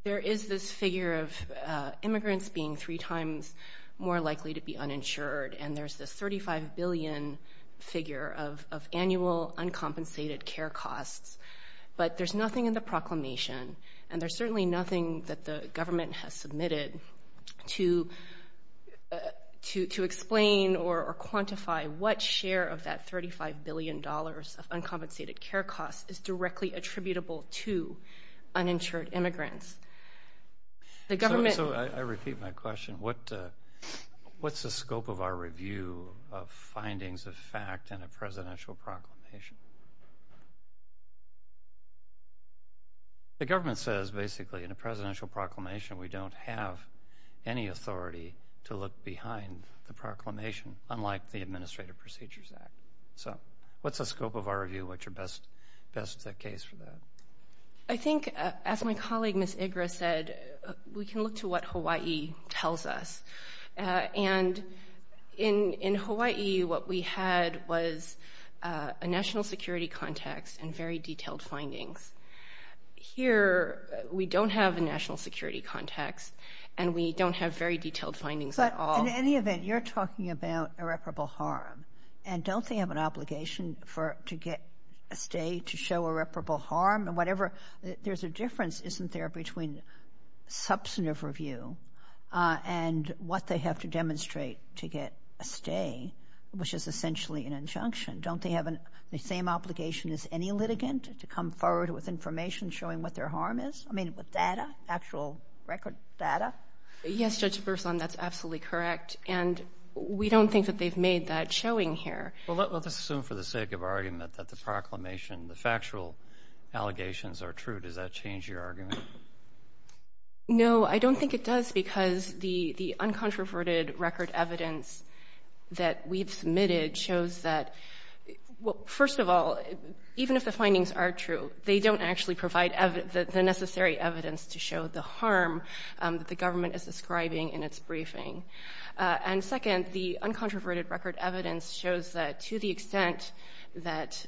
There is this figure of immigrants being three times more likely to be uninsured, and there's this $35 billion figure of annual uncompensated care costs. But there's nothing in the proclamation, and there's certainly nothing that the government has submitted to explain or quantify what share of that $35 billion of uncompensated care costs is directly attributable to uninsured immigrants. So I repeat my question. What's the scope of our review of findings of fact in a presidential proclamation? The government says basically in a presidential proclamation we don't have any authority to look behind the proclamation, unlike the Administrative Procedures Act. So what's the scope of our review? What's your best case for that? I think, as my colleague, Ms. Igra, said, we can look to what Hawaii tells us. And in Hawaii, what we had was a national security context and very detailed findings. Here, we don't have a national security context, and we don't have very detailed findings at all. But in any event, you're talking about irreparable harm. And don't they have an obligation to get a stay to show irreparable harm? There's a difference, isn't there, between substantive review and what they have to demonstrate to get a stay, which is essentially an injunction? Don't they have the same obligation as any litigant to come forward with information showing what their harm is? I mean, with data, actual record data? Yes, Judge Burson, that's absolutely correct. And we don't think that they've made that showing here. Well, let's assume for the sake of argument that the proclamation, the factual allegations are true. Does that change your argument? No, I don't think it does because the uncontroverted record evidence that we've submitted shows that, well, first of all, even if the findings are true, they don't actually provide the necessary evidence to show the harm that the government is describing in its briefing. And second, the uncontroverted record evidence shows that to the extent that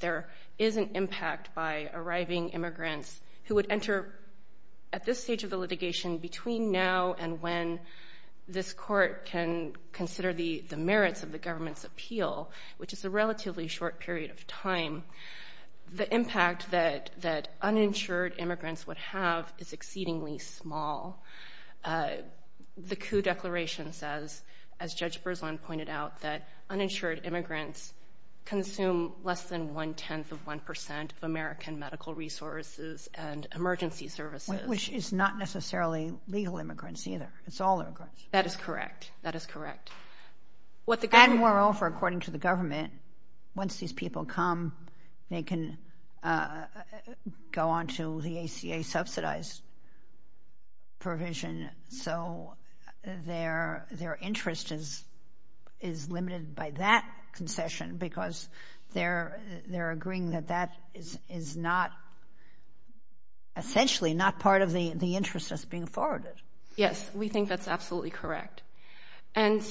there is an impact by arriving immigrants who would enter at this stage of the litigation between now and when this court can consider the merits of the government's appeal, which is a relatively short period of time, the impact that uninsured immigrants would have is exceedingly small. The coup declaration says, as Judge Burson pointed out, that uninsured immigrants consume less than one-tenth of one percent of American medical resources and emergency services. Which is not necessarily legal immigrants either. It's all immigrants. That is correct. That is correct. And moreover, according to the government, once these people come, they can go on to the ACA subsidized provision. So their interest is limited by that concession because they're agreeing that that is not essentially not part of the interest that's being forwarded. Yes, we think that's absolutely correct. Isn't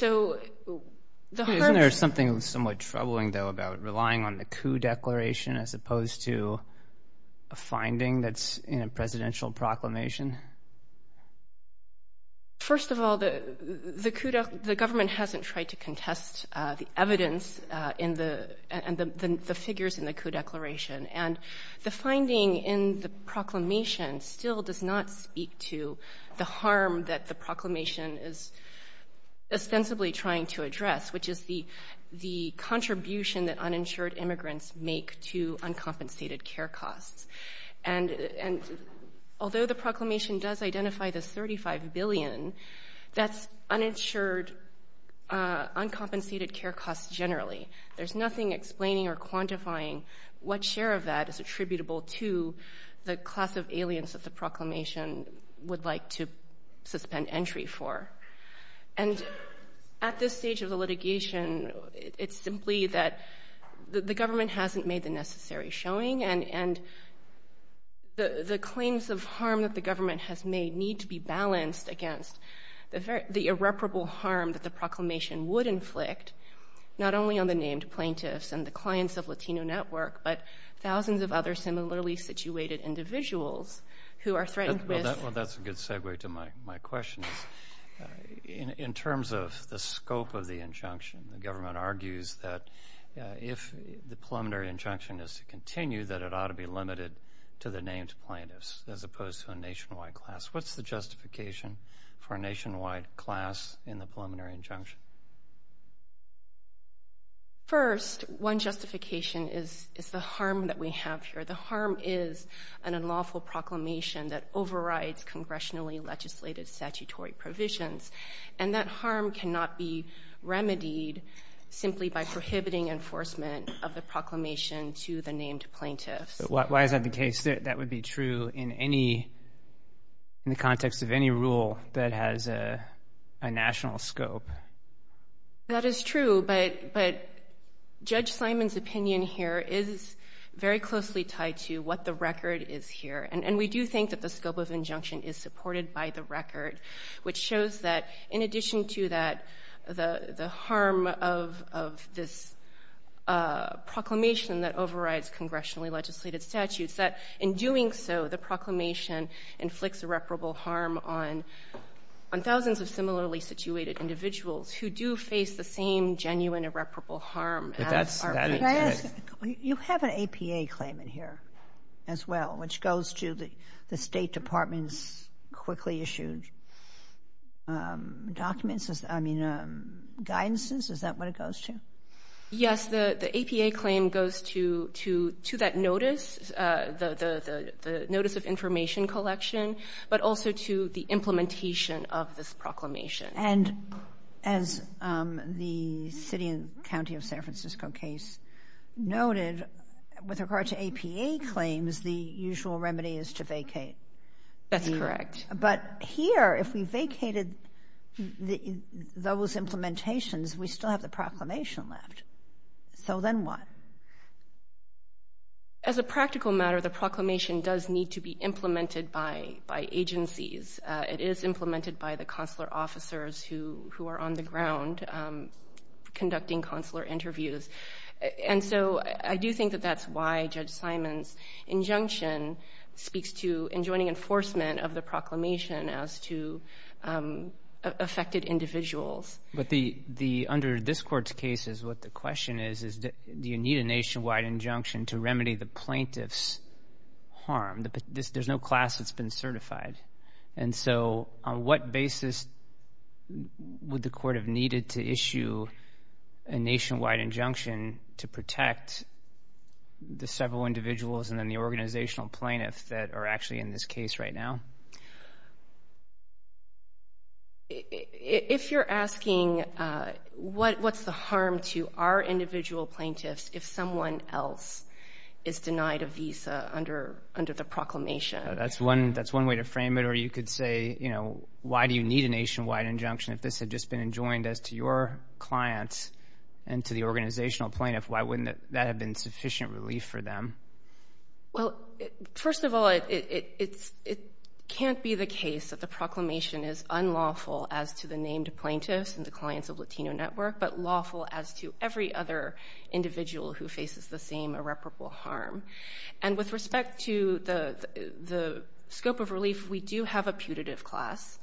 there something somewhat troubling, though, about relying on the coup declaration as opposed to a finding that's in a presidential proclamation? First of all, the government hasn't tried to contest the evidence and the figures in the coup declaration. And the finding in the proclamation still does not speak to the harm that the proclamation is ostensibly trying to address, which is the contribution that uninsured immigrants make to uncompensated care costs. And although the proclamation does identify the $35 billion, that's uninsured uncompensated care costs generally. There's nothing explaining or quantifying what share of that is attributable to the class of aliens that the proclamation would like to suspend entry for. And at this stage of the litigation, it's simply that the government hasn't made the necessary showing, and the claims of harm that the government has made need to be balanced against the irreparable harm that the proclamation would inflict, not only on the named plaintiffs and the clients of Latino Network, but thousands of other similarly situated individuals who are threatened with- Well, that's a good segue to my question. In terms of the scope of the injunction, the government argues that if the preliminary injunction is to continue, that it ought to be limited to the named plaintiffs as opposed to a nationwide class. What's the justification for a nationwide class in the preliminary injunction? First, one justification is the harm that we have here. The harm is an unlawful proclamation that overrides congressionally legislated statutory provisions, and that harm cannot be remedied simply by prohibiting enforcement of the proclamation to the named plaintiffs. Why is that the case? That would be true in the context of any rule that has a national scope. That is true, but Judge Simon's opinion here is very closely tied to what the record is here. And we do think that the scope of injunction is supported by the record, which shows that in addition to that, the harm of this proclamation that overrides congressionally legislated statutes, that in doing so, the proclamation inflicts irreparable harm on thousands of similarly situated individuals who do face the same genuine irreparable harm as our plaintiffs. You have an APA claimant here as well, which goes to the State Department's quickly issued documents, I mean, guidances? Is that what it goes to? Yes, the APA claim goes to that notice, the notice of information collection, but also to the implementation of this proclamation. And as the city and county of San Francisco case noted, with regard to APA claims, the usual remedy is to vacate. That's correct. But here, if we vacated those implementations, we still have the proclamation left. So then what? As a practical matter, the proclamation does need to be implemented by agencies. It is implemented by the consular officers who are on the ground conducting consular interviews. And so I do think that that's why Judge Simon's injunction speaks to enjoining enforcement of the proclamation as to affected individuals. But under this Court's cases, what the question is, is do you need a nationwide injunction to remedy the plaintiff's harm? There's no class that's been certified. And so on what basis would the Court have needed to issue a nationwide injunction to protect the several individuals and then the organizational plaintiffs that are actually in this case right now? If you're asking what's the harm to our individual plaintiffs if someone else is denied a visa under the proclamation? That's one way to frame it. Or you could say, you know, why do you need a nationwide injunction if this had just been enjoined as to your clients and to the organizational plaintiff? Why wouldn't that have been sufficient relief for them? Well, first of all, it can't be the case that the proclamation is unlawful as to the named plaintiffs and the clients of Latino Network, but lawful as to every other individual who faces the same irreparable harm. And with respect to the scope of relief, we do have a putative class.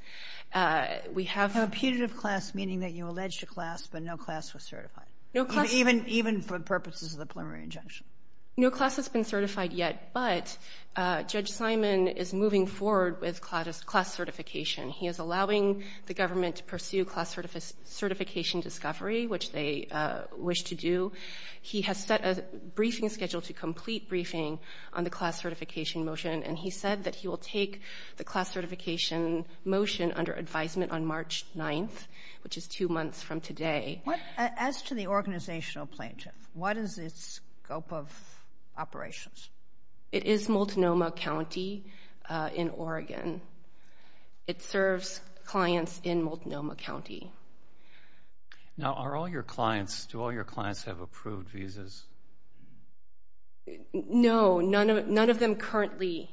We have a putative class, meaning that you alleged a class, but no class was certified. Even for purposes of the preliminary injunction. No class has been certified yet, but Judge Simon is moving forward with class certification. He is allowing the government to pursue class certification discovery, which they wish to do. He has set a briefing schedule to complete briefing on the class certification motion, and he said that he will take the class certification motion under advisement on March 9th, which is two months from today. As to the organizational plaintiff, what is its scope of operations? It is Multnomah County in Oregon. It serves clients in Multnomah County. Now, are all your clients, do all your clients have approved visas? No, none of them currently.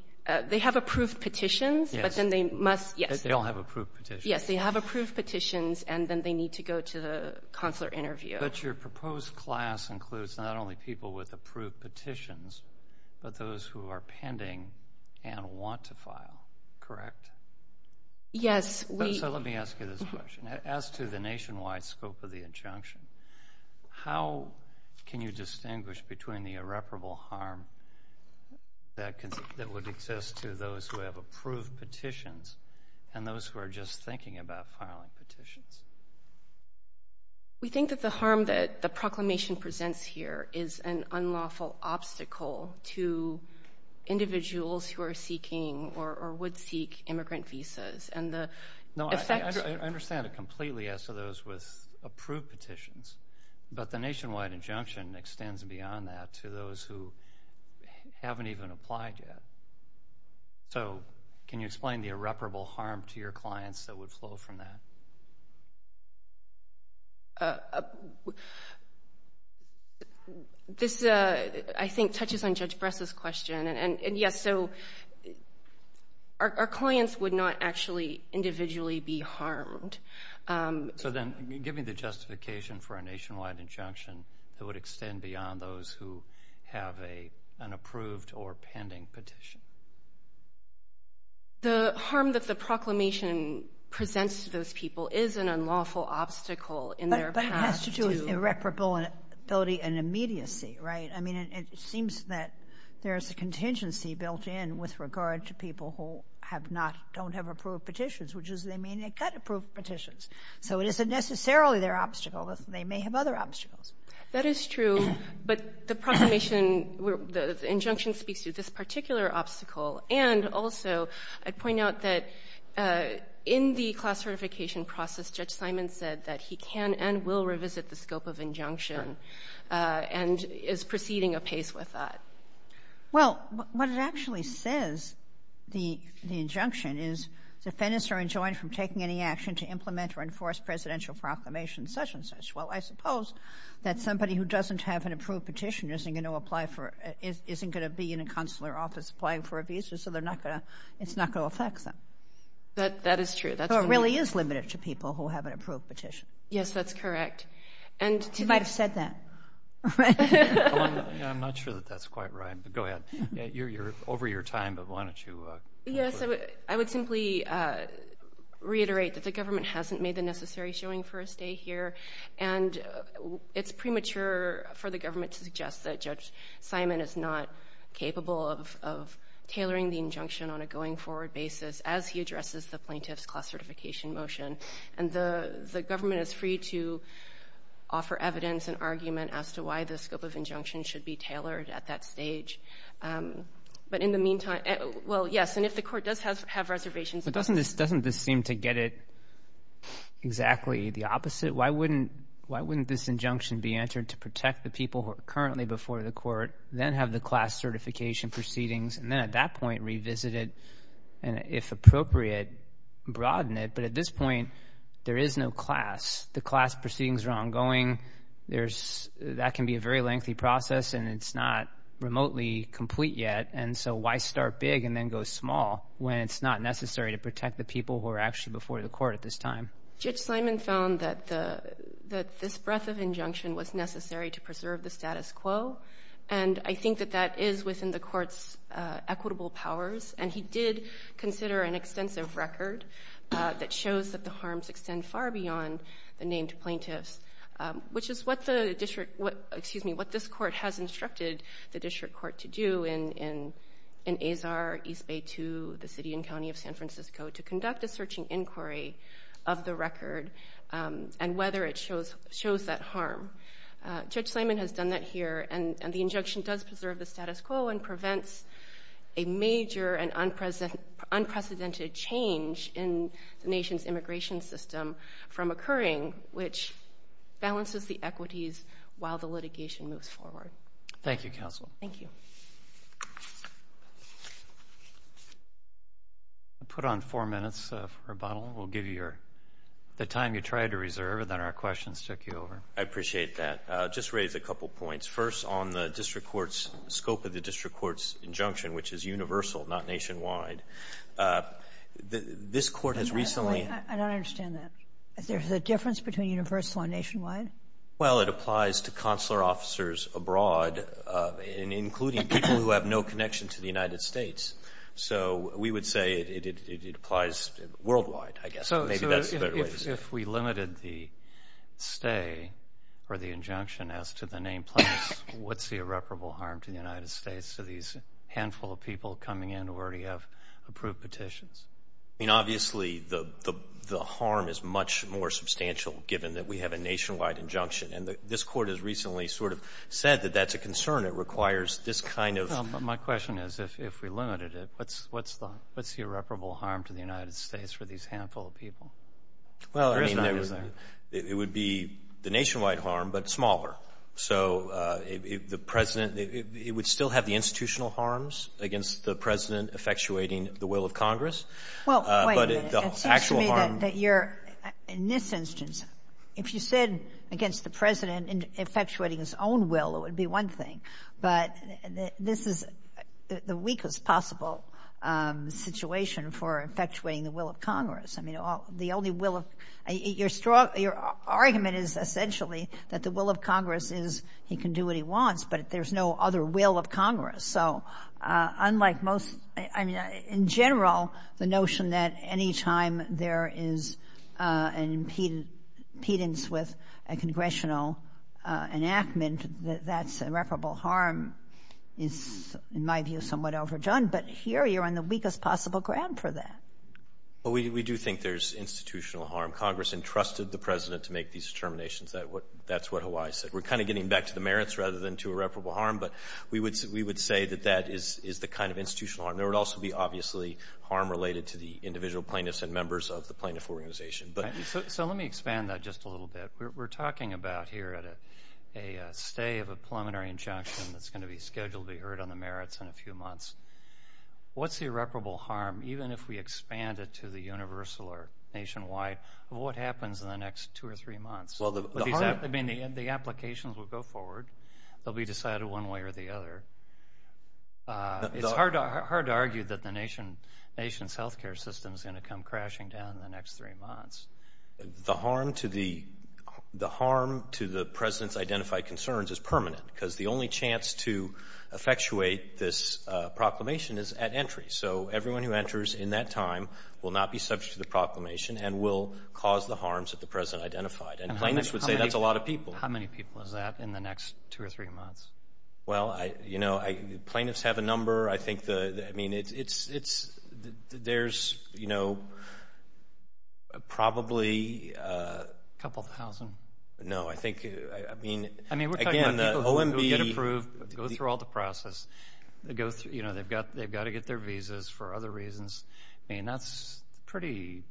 They have approved petitions, but then they must, yes. They all have approved petitions. Yes, they have approved petitions, and then they need to go to the consular interview. But your proposed class includes not only people with approved petitions, but those who are pending and want to file, correct? Yes. So let me ask you this question. As to the nationwide scope of the injunction, how can you distinguish between the irreparable harm that would exist to those who have approved petitions and those who are just thinking about filing petitions? We think that the harm that the proclamation presents here is an unlawful obstacle to individuals who are seeking or would seek immigrant visas, and the effect – No, I understand it completely as to those with approved petitions, but the nationwide injunction extends beyond that to those who haven't even applied yet. So can you explain the irreparable harm to your clients that would flow from that? This, I think, touches on Judge Bress's question. And, yes, so our clients would not actually individually be harmed. So then give me the justification for a nationwide injunction that would extend beyond those who have an approved or pending petition. The harm that the proclamation presents to those people is an unlawful obstacle in their path to – But it has to do with irreparability and immediacy, right? I mean, it seems that there's a contingency built in with regard to people who have not – don't have approved petitions, which is they may not get approved petitions. So it isn't necessarily their obstacle. They may have other obstacles. That is true. But the proclamation – the injunction speaks to this particular obstacle. And also I'd point out that in the class certification process, Judge Simon said that he can and will revisit the scope of injunction and is proceeding apace with that. Well, what it actually says, the injunction, is defendants are enjoined from taking any action to implement or enforce presidential proclamations such and such. Well, I suppose that somebody who doesn't have an approved petition isn't going to apply for – isn't going to be in a consular office applying for a visa, so they're not going to – it's not going to affect them. That is true. So it really is limited to people who have an approved petition. Yes, that's correct. She might have said that. I'm not sure that that's quite right, but go ahead. You're over your time, but why don't you – Yes, I would simply reiterate that the government hasn't made the necessary showing for a stay here, and it's premature for the government to suggest that Judge Simon is not capable of tailoring the injunction on a going-forward basis as he addresses the plaintiff's class certification motion. And the government is free to offer evidence and argument as to why the scope of injunction should be tailored at that stage. But in the meantime – well, yes, and if the court does have reservations – But doesn't this seem to get it exactly the opposite? Why wouldn't this injunction be entered to protect the people who are currently before the court, then have the class certification proceedings, and then at that point revisit it there is no class. The class proceedings are ongoing. That can be a very lengthy process, and it's not remotely complete yet. And so why start big and then go small when it's not necessary to protect the people who are actually before the court at this time? Judge Simon found that this breadth of injunction was necessary to preserve the status quo, and I think that that is within the court's equitable powers. And he did consider an extensive record that shows that the harms extend far beyond the named plaintiffs, which is what this court has instructed the district court to do in Azar, East Bay 2, the city and county of San Francisco, to conduct a searching inquiry of the record and whether it shows that harm. Judge Simon has done that here, and the injunction does preserve the status quo and prevents a major and unprecedented change in the nation's immigration system from occurring, which balances the equities while the litigation moves forward. Thank you, counsel. Thank you. We'll put on four minutes for rebuttal. We'll give you the time you tried to reserve, and then our questions take you over. I appreciate that. I'll just raise a couple points. First, on the district court's scope of the district court's injunction, which is universal, not nationwide, this court has recently I don't understand that. Is there a difference between universal and nationwide? Well, it applies to consular officers abroad, including people who have no connection to the United States. So we would say it applies worldwide, I guess. If we limited the stay or the injunction as to the nameplates, what's the irreparable harm to the United States to these handful of people coming in who already have approved petitions? I mean, obviously, the harm is much more substantial, given that we have a nationwide injunction, and this court has recently sort of said that that's a concern. It requires this kind of My question is, if we limited it, what's the irreparable harm to the United States for these handful of people? Well, I mean, it would be the nationwide harm, but smaller. So the President, it would still have the institutional harms against the President effectuating the will of Congress. Well, wait a minute. It seems to me that you're, in this instance, if you said against the President effectuating his own will, it would be one thing. But this is the weakest possible situation for effectuating the will of Congress. I mean, the only will of Your argument is essentially that the will of Congress is he can do what he wants, but there's no other will of Congress. So unlike most I mean, in general, the notion that any time there is an impedance with a congressional enactment, that that's irreparable harm is, in my view, somewhat overdone. But here you're on the weakest possible ground for that. Well, we do think there's institutional harm. Congress entrusted the President to make these determinations. That's what Hawaii said. We're kind of getting back to the merits rather than to irreparable harm, but we would say that that is the kind of institutional harm. There would also be, obviously, harm related to the individual plaintiffs and members of the plaintiff organization. So let me expand that just a little bit. We're talking about here a stay of a preliminary injunction that's going to be scheduled to be heard on the merits in a few months. What's the irreparable harm, even if we expand it to the universal or nationwide, of what happens in the next two or three months? I mean, the applications will go forward. They'll be decided one way or the other. It's hard to argue that the nation's health care system is going to come crashing down in the next three months. The harm to the President's identified concerns is permanent because the only chance to effectuate this proclamation is at entry. So everyone who enters in that time will not be subject to the proclamation and will cause the harms that the President identified. And plaintiffs would say that's a lot of people. How many people is that in the next two or three months? Well, you know, plaintiffs have a number. I think, I mean, there's, you know, probably a couple thousand. No, I think, I mean, again, the OMB. I mean, we're talking about people who get approved, go through all the process. You know, they've got to get their visas for other reasons. I mean, that's a pretty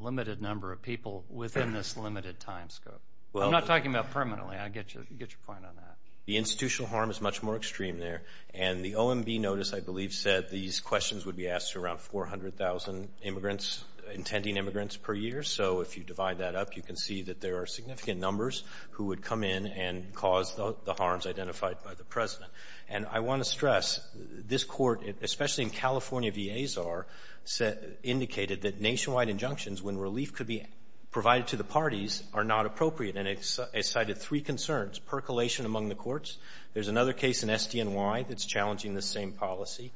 limited number of people within this limited time scope. I'm not talking about permanently. I get your point on that. The institutional harm is much more extreme there. And the OMB notice, I believe, said these questions would be asked to around 400,000 immigrants, intending immigrants per year. So if you divide that up, you can see that there are significant numbers who would come in and cause the harms identified by the President. And I want to stress this court, especially in California v. Azar, indicated that nationwide injunctions when relief could be provided to the parties are not appropriate. And it cited three concerns, percolation among the courts. There's another case in SDNY that's challenging this same policy.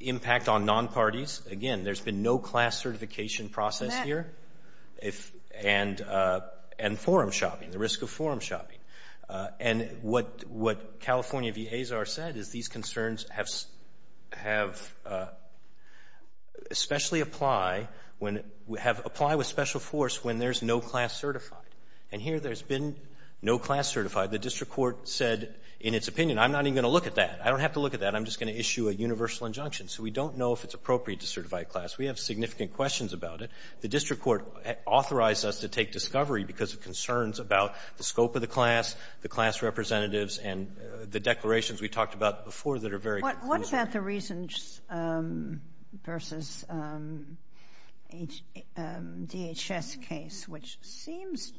Impact on non-parties. Again, there's been no class certification process here. And forum shopping, the risk of forum shopping. And what California v. Azar said is these concerns have especially apply when we have applied with special force when there's no class certified. And here there's been no class certified. The district court said in its opinion, I'm not even going to look at that. I don't have to look at that. I'm just going to issue a universal injunction. So we don't know if it's appropriate to certify a class. We have significant questions about it. The district court authorized us to take discovery because of concerns about the scope of the class, the class representatives, and the declarations we talked about before that are very conclusive. What about the Reasons v. DHS case, which seems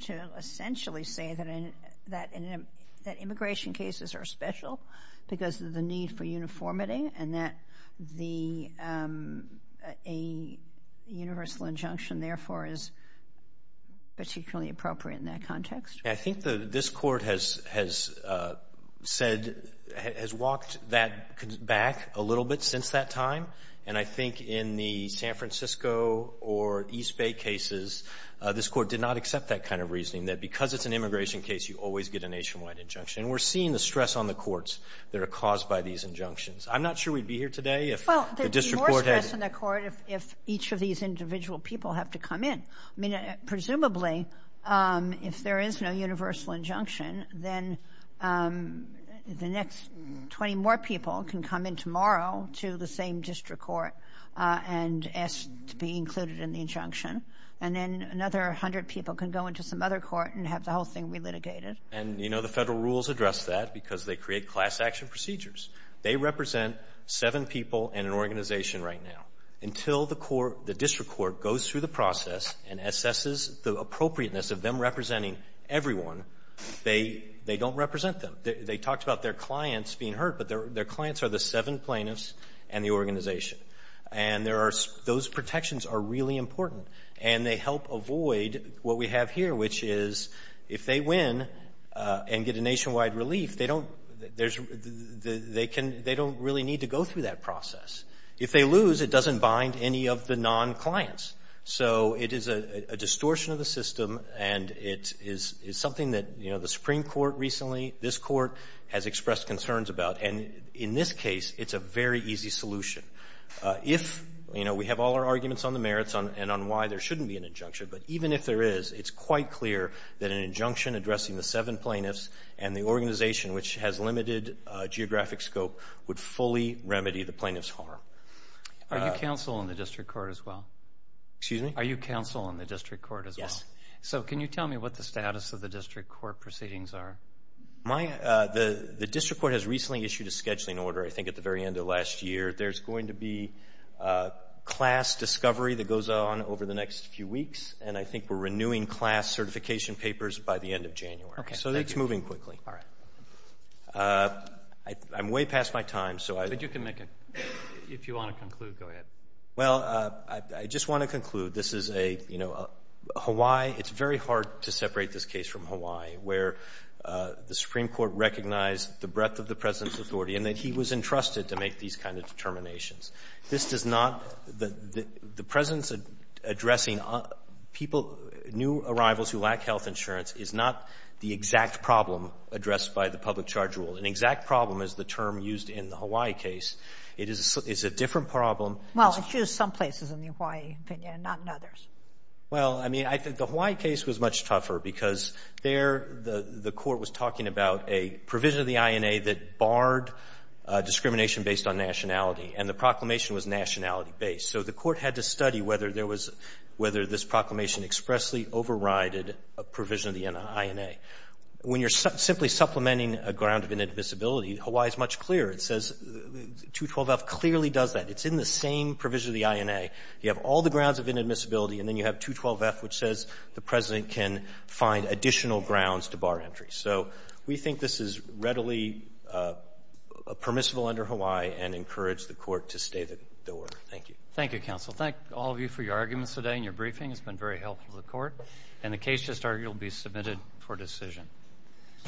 to essentially say that immigration cases are special because of the need for uniformity and that a universal injunction, therefore, is particularly appropriate in that context? I think this court has said, has walked that back a little bit since that time. And I think in the San Francisco or East Bay cases, this court did not accept that kind of reasoning, that because it's an immigration case you always get a nationwide injunction. And we're seeing the stress on the courts that are caused by these injunctions. I'm not sure we'd be here today if the district court had— Well, there'd be more stress on the court if each of these individual people have to come in. I mean, presumably, if there is no universal injunction, then the next 20 more people can come in tomorrow to the same district court and ask to be included in the injunction. And then another 100 people can go into some other court and have the whole thing relitigated. And, you know, the Federal rules address that because they create class action procedures. They represent seven people in an organization right now. Until the court, the district court goes through the process and assesses the appropriateness of them representing everyone, they don't represent them. They talked about their clients being hurt, but their clients are the seven plaintiffs and the organization. And there are—those protections are really important. And they help avoid what we have here, which is if they win and get a nationwide relief, they don't really need to go through that process. If they lose, it doesn't bind any of the non-clients. So it is a distortion of the system, and it is something that, you know, the Supreme Court recently, this court, has expressed concerns about. And in this case, it's a very easy solution. If, you know, we have all our arguments on the merits and on why there shouldn't be an injunction, but even if there is, it's quite clear that an injunction addressing the seven plaintiffs and the organization, which has limited geographic scope, would fully remedy the plaintiff's harm. Are you counsel in the district court as well? Excuse me? Are you counsel in the district court as well? Yes. So can you tell me what the status of the district court proceedings are? The district court has recently issued a scheduling order, I think, at the very end of last year. There's going to be class discovery that goes on over the next few weeks, and I think we're renewing class certification papers by the end of January. Okay. So that's moving quickly. All right. I'm way past my time, so I — But you can make a — if you want to conclude, go ahead. Well, I just want to conclude. This is a, you know, Hawaii — it's very hard to separate this case from Hawaii, where the Supreme Court recognized the breadth of the President's authority and that he was entrusted to make these kind of determinations. This does not — the President's addressing people — new arrivals who lack health insurance is not the exact problem addressed by the public charge rule. An exact problem is the term used in the Hawaii case. It is a different problem. Well, it's used some places in the Hawaii opinion, not in others. Well, I mean, I think the Hawaii case was much tougher because there the court was talking about a provision of the INA that barred discrimination based on nationality, and the proclamation was nationality-based. So the court had to study whether there was — whether this proclamation expressly overrided a provision of the INA. When you're simply supplementing a ground of inadmissibility, Hawaii is much clearer. It says — 212F clearly does that. It's in the same provision of the INA. You have all the grounds of inadmissibility, and then you have 212F, which says the President can find additional grounds to bar entry. So we think this is readily permissible under Hawaii and encourage the court to stay the door. Thank you. Thank you, counsel. Thank all of you for your arguments today and your briefing. It's been very helpful to the court. And the case just argued will be submitted for decision.